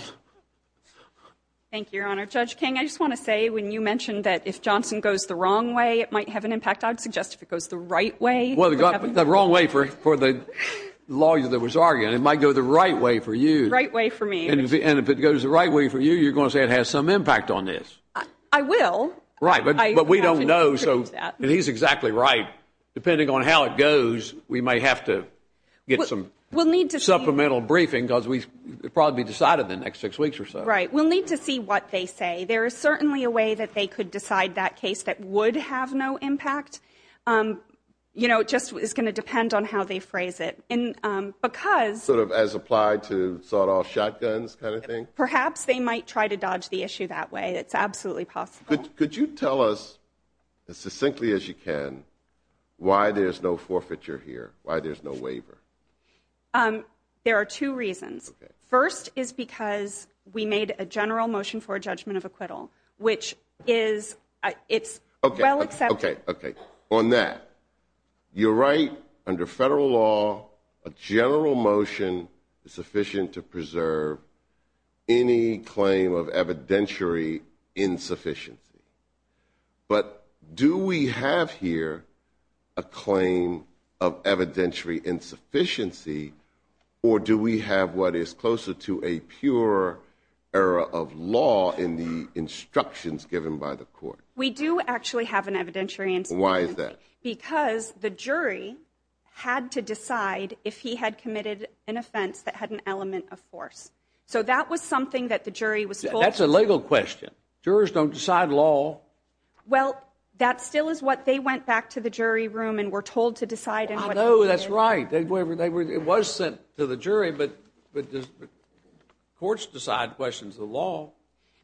Thank you, Your Honor. Judge King, I just want to say, when you mentioned that if Johnson goes the wrong way, it might have an impact, I'd suggest if it goes the right way. Well, the wrong way for the lawyer that was arguing. It might go the right way for you. Right way for me. And if it goes the right way for you, you're going to say it has some impact on this. I will. Right. But we don't know. And he's exactly right. Depending on how it goes, we might have to get some supplemental briefing because it will probably be decided in the next six weeks or so. Right. We'll need to see what they say. There is certainly a way that they could decide that case that would have no impact. You know, it just is going to depend on how they phrase it. Sort of as applied to the sawed-off shotguns kind of thing? Perhaps they might try to dodge the issue that way. It's absolutely possible. Could you tell us, as succinctly as you can, why there's no forfeiture here, why there's no waiver? There are two reasons. First is because we made a general motion for a judgment of acquittal, which is, it's well accepted. Okay, okay. You're right. Under federal law, a general motion is sufficient to preserve any claim of evidentiary insufficiency. But do we have here a claim of evidentiary insufficiency, or do we have what is closer to a pure error of law in the instructions given by the court? We do actually have an evidentiary insufficiency. Why is that? Because the jury had to decide if he had committed an offense that had an element of force. So that was something that the jury was told. That's a legal question. Jurors don't decide law. Well, that still is what they went back to the jury room and were told to decide. I know, that's right. It was sent to the jury, but courts decide questions of the law.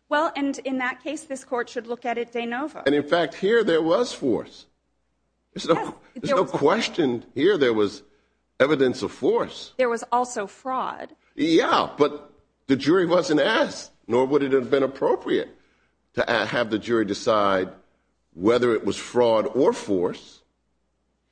Well, and in that case, this court should look at it de novo. And, in fact, here there was force. There's no question here there was evidence of force. There was also fraud. Yeah, but the jury wasn't asked, nor would it have been appropriate to have the jury decide whether it was fraud or force.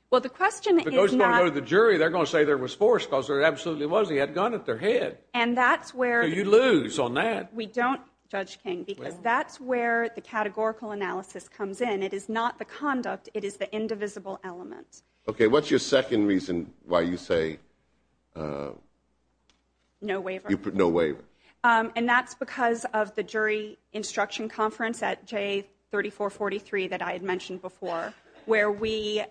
Well, the question is not- But those that were in the jury, they're going to say there was force, because there absolutely was. They had a gun at their head. And that's where- So you lose on that. We don't, Judge King, because that's where the categorical analysis comes in. It is not the conduct. It is the indivisible element. Okay, what's your second reason why you say- No waiver. No waiver. And that's because of the jury instruction conference at J3443 that I had mentioned before, where we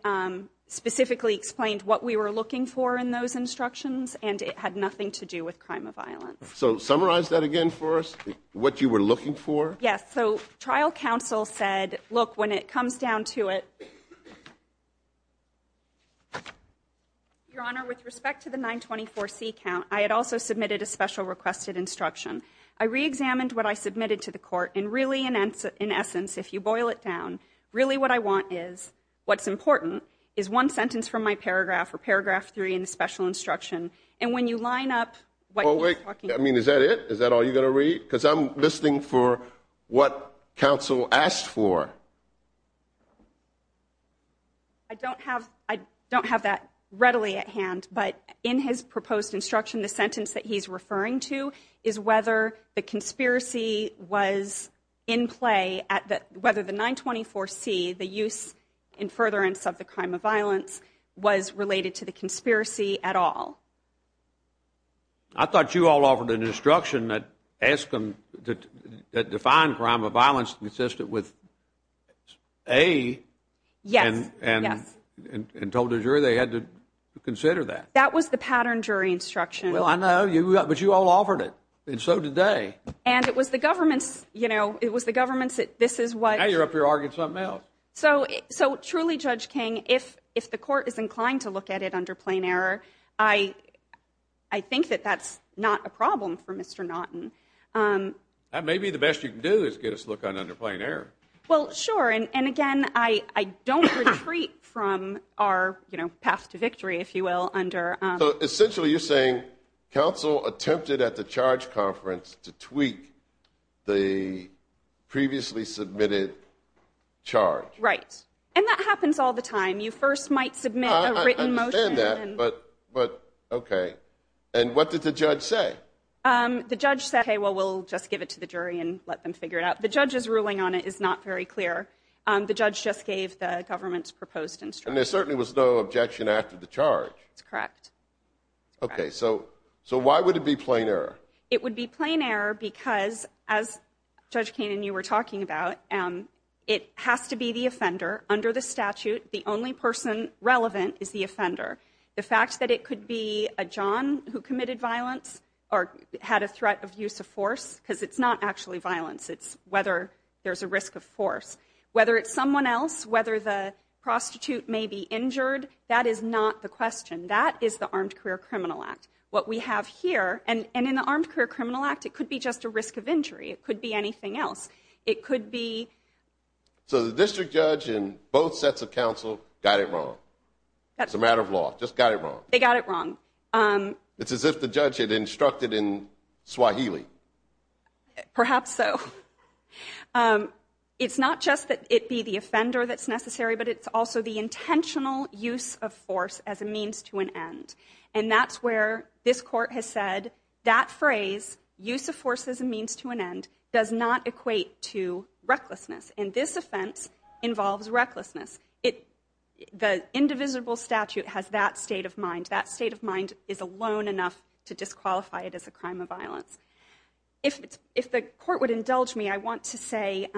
specifically explained what we were looking for in those instructions, and it had nothing to do with crime of violence. So summarize that again for us, what you were looking for. Yes. So trial counsel said, look, when it comes down to it, Your Honor, with respect to the 924C count, I had also submitted a special requested instruction. I reexamined what I submitted to the court, and really, in essence, if you boil it down, really what I want is what's important is one sentence from my paragraph or paragraph 3 in the special instruction. And when you line up what you're talking about- Oh, wait. I mean, is that it? Is that all you're going to read? Because I'm listening for what counsel asked for. I don't have that readily at hand, but in his proposed instruction, the sentence that he's referring to is whether the conspiracy was in play, whether the 924C, the use in furtherance of the crime of violence, was related to the conspiracy at all. I thought you all offered an instruction that defined crime of violence consistent with A. Yes. And told the jury they had to consider that. That was the pattern jury instruction. Well, I know, but you all offered it, and so did they. And it was the government that this is what- Now you're up here arguing something else. So truly, Judge King, if the court is inclined to look at it under plain error, I think that that's not a problem for Mr. Naughton. Maybe the best you can do is get us to look on it under plain error. Well, sure. And, again, I don't retreat from our path to victory, if you will, under- So essentially you're saying counsel attempted at the charge conference to tweak the previously submitted charge. Right. And that happens all the time. You first might submit a written motion. I understand that, but okay. And what did the judge say? The judge said, okay, well, we'll just give it to the jury and let them figure it out. The judge's ruling on it is not very clear. And there certainly was no objection after the charge. Correct. Okay. So why would it be plain error? It would be plain error because, as Judge King and you were talking about, it has to be the offender under the statute. The only person relevant is the offender. The fact that it could be a John who committed violence or had a threat of use of force, because it's not actually violence. It's whether there's a risk of force. Whether it's someone else, whether the prostitute may be injured, that is not the question. That is the Armed Career Criminal Act. What we have here, and in the Armed Career Criminal Act, it could be just a risk of injury. It could be anything else. It could be. So the district judge and both sets of counsel got it wrong. It's a matter of law. Just got it wrong. They got it wrong. It's as if the judge had instructed in Swahili. Perhaps so. It's not just that it be the offender that's necessary, but it's also the intentional use of force as a means to an end. And that's where this court has said that phrase, use of force as a means to an end, does not equate to recklessness. And this offense involves recklessness. The indivisible statute has that state of mind. That state of mind is alone enough to disqualify it as a crime of violence. If the court would indulge me, I want to say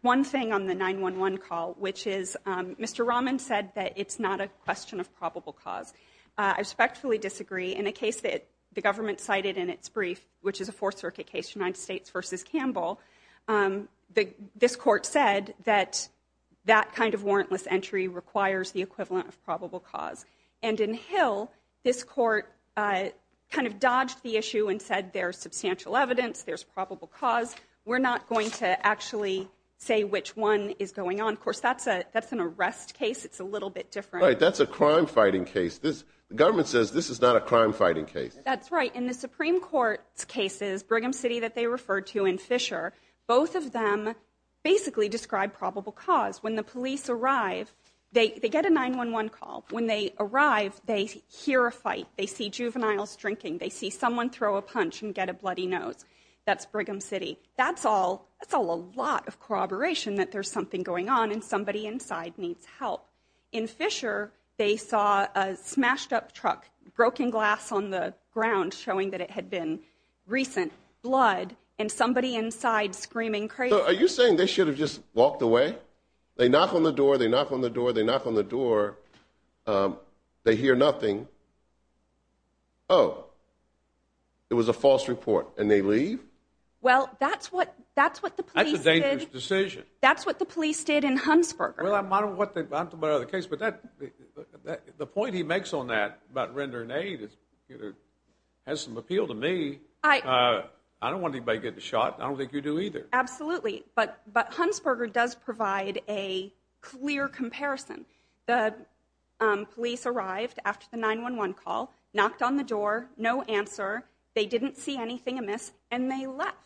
one thing on the 911 call, which is Mr. Rahman said that it's not a question of probable cause. I respectfully disagree. In the case that the government cited in its brief, which is a Fourth Circuit case, United States versus Campbell, this court said that that kind of warrantless entry requires the equivalent of probable cause. And in Hill, this court kind of dodged the issue and said there's substantial evidence, there's probable cause. We're not going to actually say which one is going on. Of course, that's an arrest case. It's a little bit different. All right, that's a crime-fighting case. The government says this is not a crime-fighting case. That's right. In the Supreme Court cases, Brigham City that they referred to and Fisher, both of them basically describe probable cause. When the police arrive, they get a 911 call. When they arrive, they hear a fight. They see juveniles drinking. They see someone throw a punch and get a bloody nose. That's Brigham City. That's all a lot of corroboration that there's something going on and somebody inside needs help. In Fisher, they saw a smashed-up truck, broken glass on the ground, showing that it had been recent, blood, and somebody inside screaming crazy. So are you saying they should have just walked away? They knock on the door, they knock on the door, they knock on the door. They hear nothing. Oh, it was a false report, and they leave? Well, that's what the police did. That's a dangerous decision. That's what the police did in Hunsberger. Well, I don't know about the case, but the point he makes on that about rendering aid has some appeal to me. I don't want anybody getting shot, and I don't think you do either. Absolutely. But Hunsberger does provide a clear comparison. The police arrived after the 911 call, knocked on the door, no answer. They didn't see anything amiss, and they left.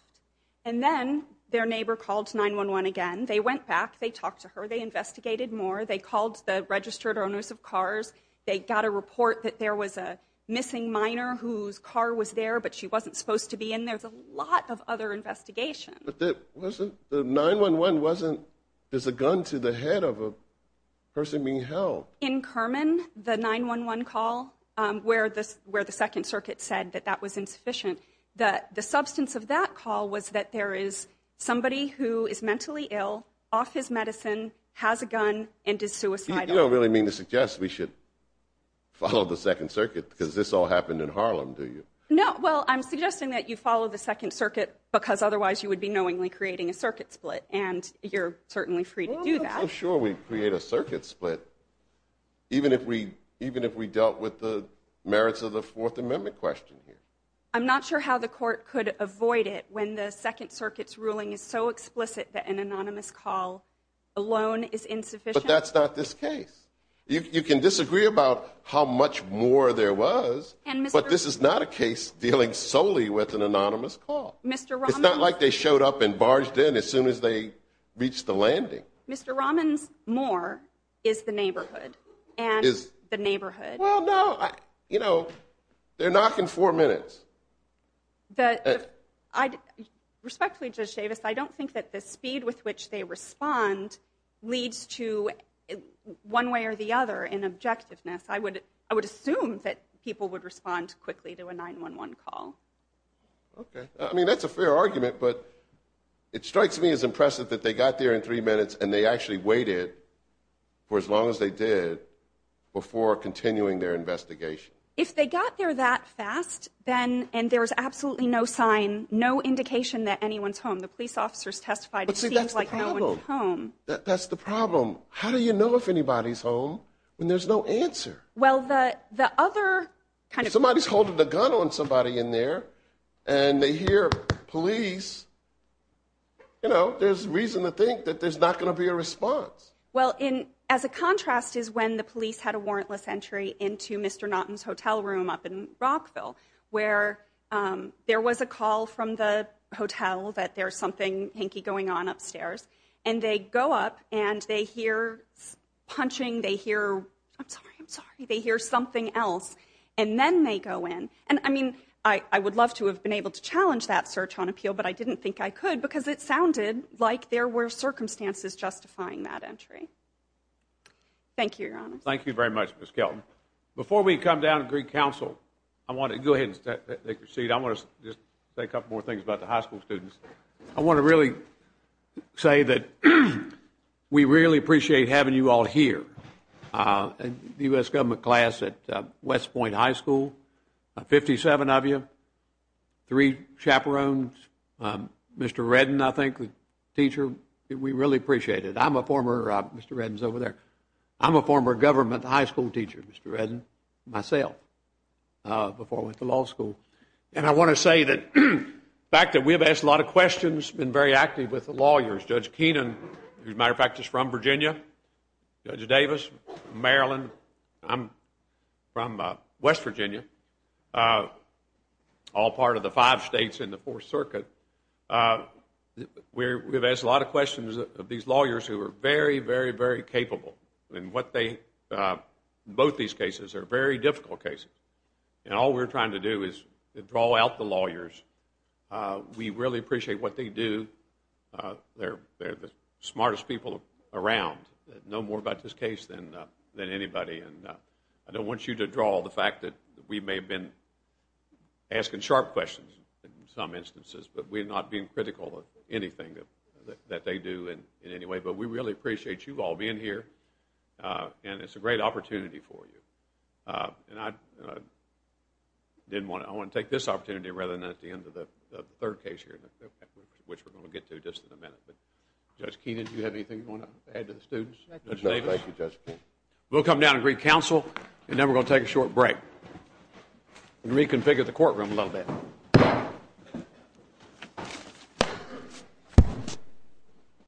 And then their neighbor called 911 again. They went back. They talked to her. They investigated more. They called the registered owners of cars. They got a report that there was a missing minor whose car was there, but she wasn't supposed to be, and there's a lot of other investigations. But the 911 wasn't just a gun to the head of a person being held. In Kerman, the 911 call where the Second Circuit said that that was insufficient, the substance of that call was that there is somebody who is mentally ill, off his medicine, has a gun, and is suicidal. You don't really mean to suggest we should follow the Second Circuit because this all happened in Harlem, do you? No. Well, I'm suggesting that you follow the Second Circuit because otherwise you would be knowingly creating a circuit split, and you're certainly free to do that. I'm sure we'd create a circuit split even if we dealt with the merits of the Fourth Amendment question here. I'm not sure how the court could avoid it when the Second Circuit's ruling is so explicit that an anonymous call alone is insufficient. But that's not this case. You can disagree about how much more there was, but this is not a case dealing solely with an anonymous call. It's not like they showed up and barged in as soon as they reached the landing. Mr. Rahman's more is the neighborhood and the neighborhood. Well, no. You know, they're knocking four minutes. Respectfully, Judge Davis, I don't think that the speed with which they respond leads to one way or the other in objectiveness. I would assume that people would respond quickly to a 911 call. Okay. I mean, that's a fair argument, but it strikes me as impressive that they got there in three minutes and they actually waited for as long as they did before continuing their investigation. If they got there that fast, then there's absolutely no sign, no indication that anyone's home. The police officers testified it seems like no one's home. That's the problem. How do you know if anybody's home when there's no answer? Well, the other kind of— If somebody's holding the gun on somebody in there and they hear police, you know, there's reason to think that there's not going to be a response. Well, as a contrast is when the police had a warrantless entry into Mr. Naughton's hotel room up in Rockville where there was a call from the hotel that there's something hanky going on upstairs, and they go up and they hear punching, they hear something else, and then they go in. And, I mean, I would love to have been able to challenge that search on appeal, but I didn't think I could because it sounded like there were circumstances justifying that entry. Thank you, Your Honor. Thank you very much, Ms. Kelton. Before we come down to Greek Council, I want to— Go ahead and take your seat. I want to just say a couple more things about the high school students. I want to really say that we really appreciate having you all here. The U.S. government class at West Point High School, 57 of you, three chaperones, Mr. Redden, I think, the teacher, we really appreciate it. I'm a former— Mr. Redden's over there. I'm a former government high school teacher, Mr. Redden, myself, before I went to law school. And I want to say that the fact that we've asked a lot of questions, been very active with the lawyers. Judge Keenan, as a matter of fact, is from Virginia. Judge Davis, Maryland. I'm from West Virginia, all part of the five states in the Fourth Circuit. We've asked a lot of questions of these lawyers who are very, very, very capable in both these cases. They're very difficult cases. And all we're trying to do is draw out the lawyers. We really appreciate what they do. They're the smartest people around, know more about this case than anybody. And I don't want you to draw the fact that we may have been asking sharp questions in some instances, but we're not being critical of anything that they do in any way. But we really appreciate you all being here, and it's a great opportunity for you. And I want to take this opportunity rather than at the end of the third case which we're going to get to just in a minute. Judge Keenan, do you have anything you want to add to the students? No, thank you, Judge. We'll come down and greet counsel, and then we're going to take a short break and reconfigure the courtroom a little bit.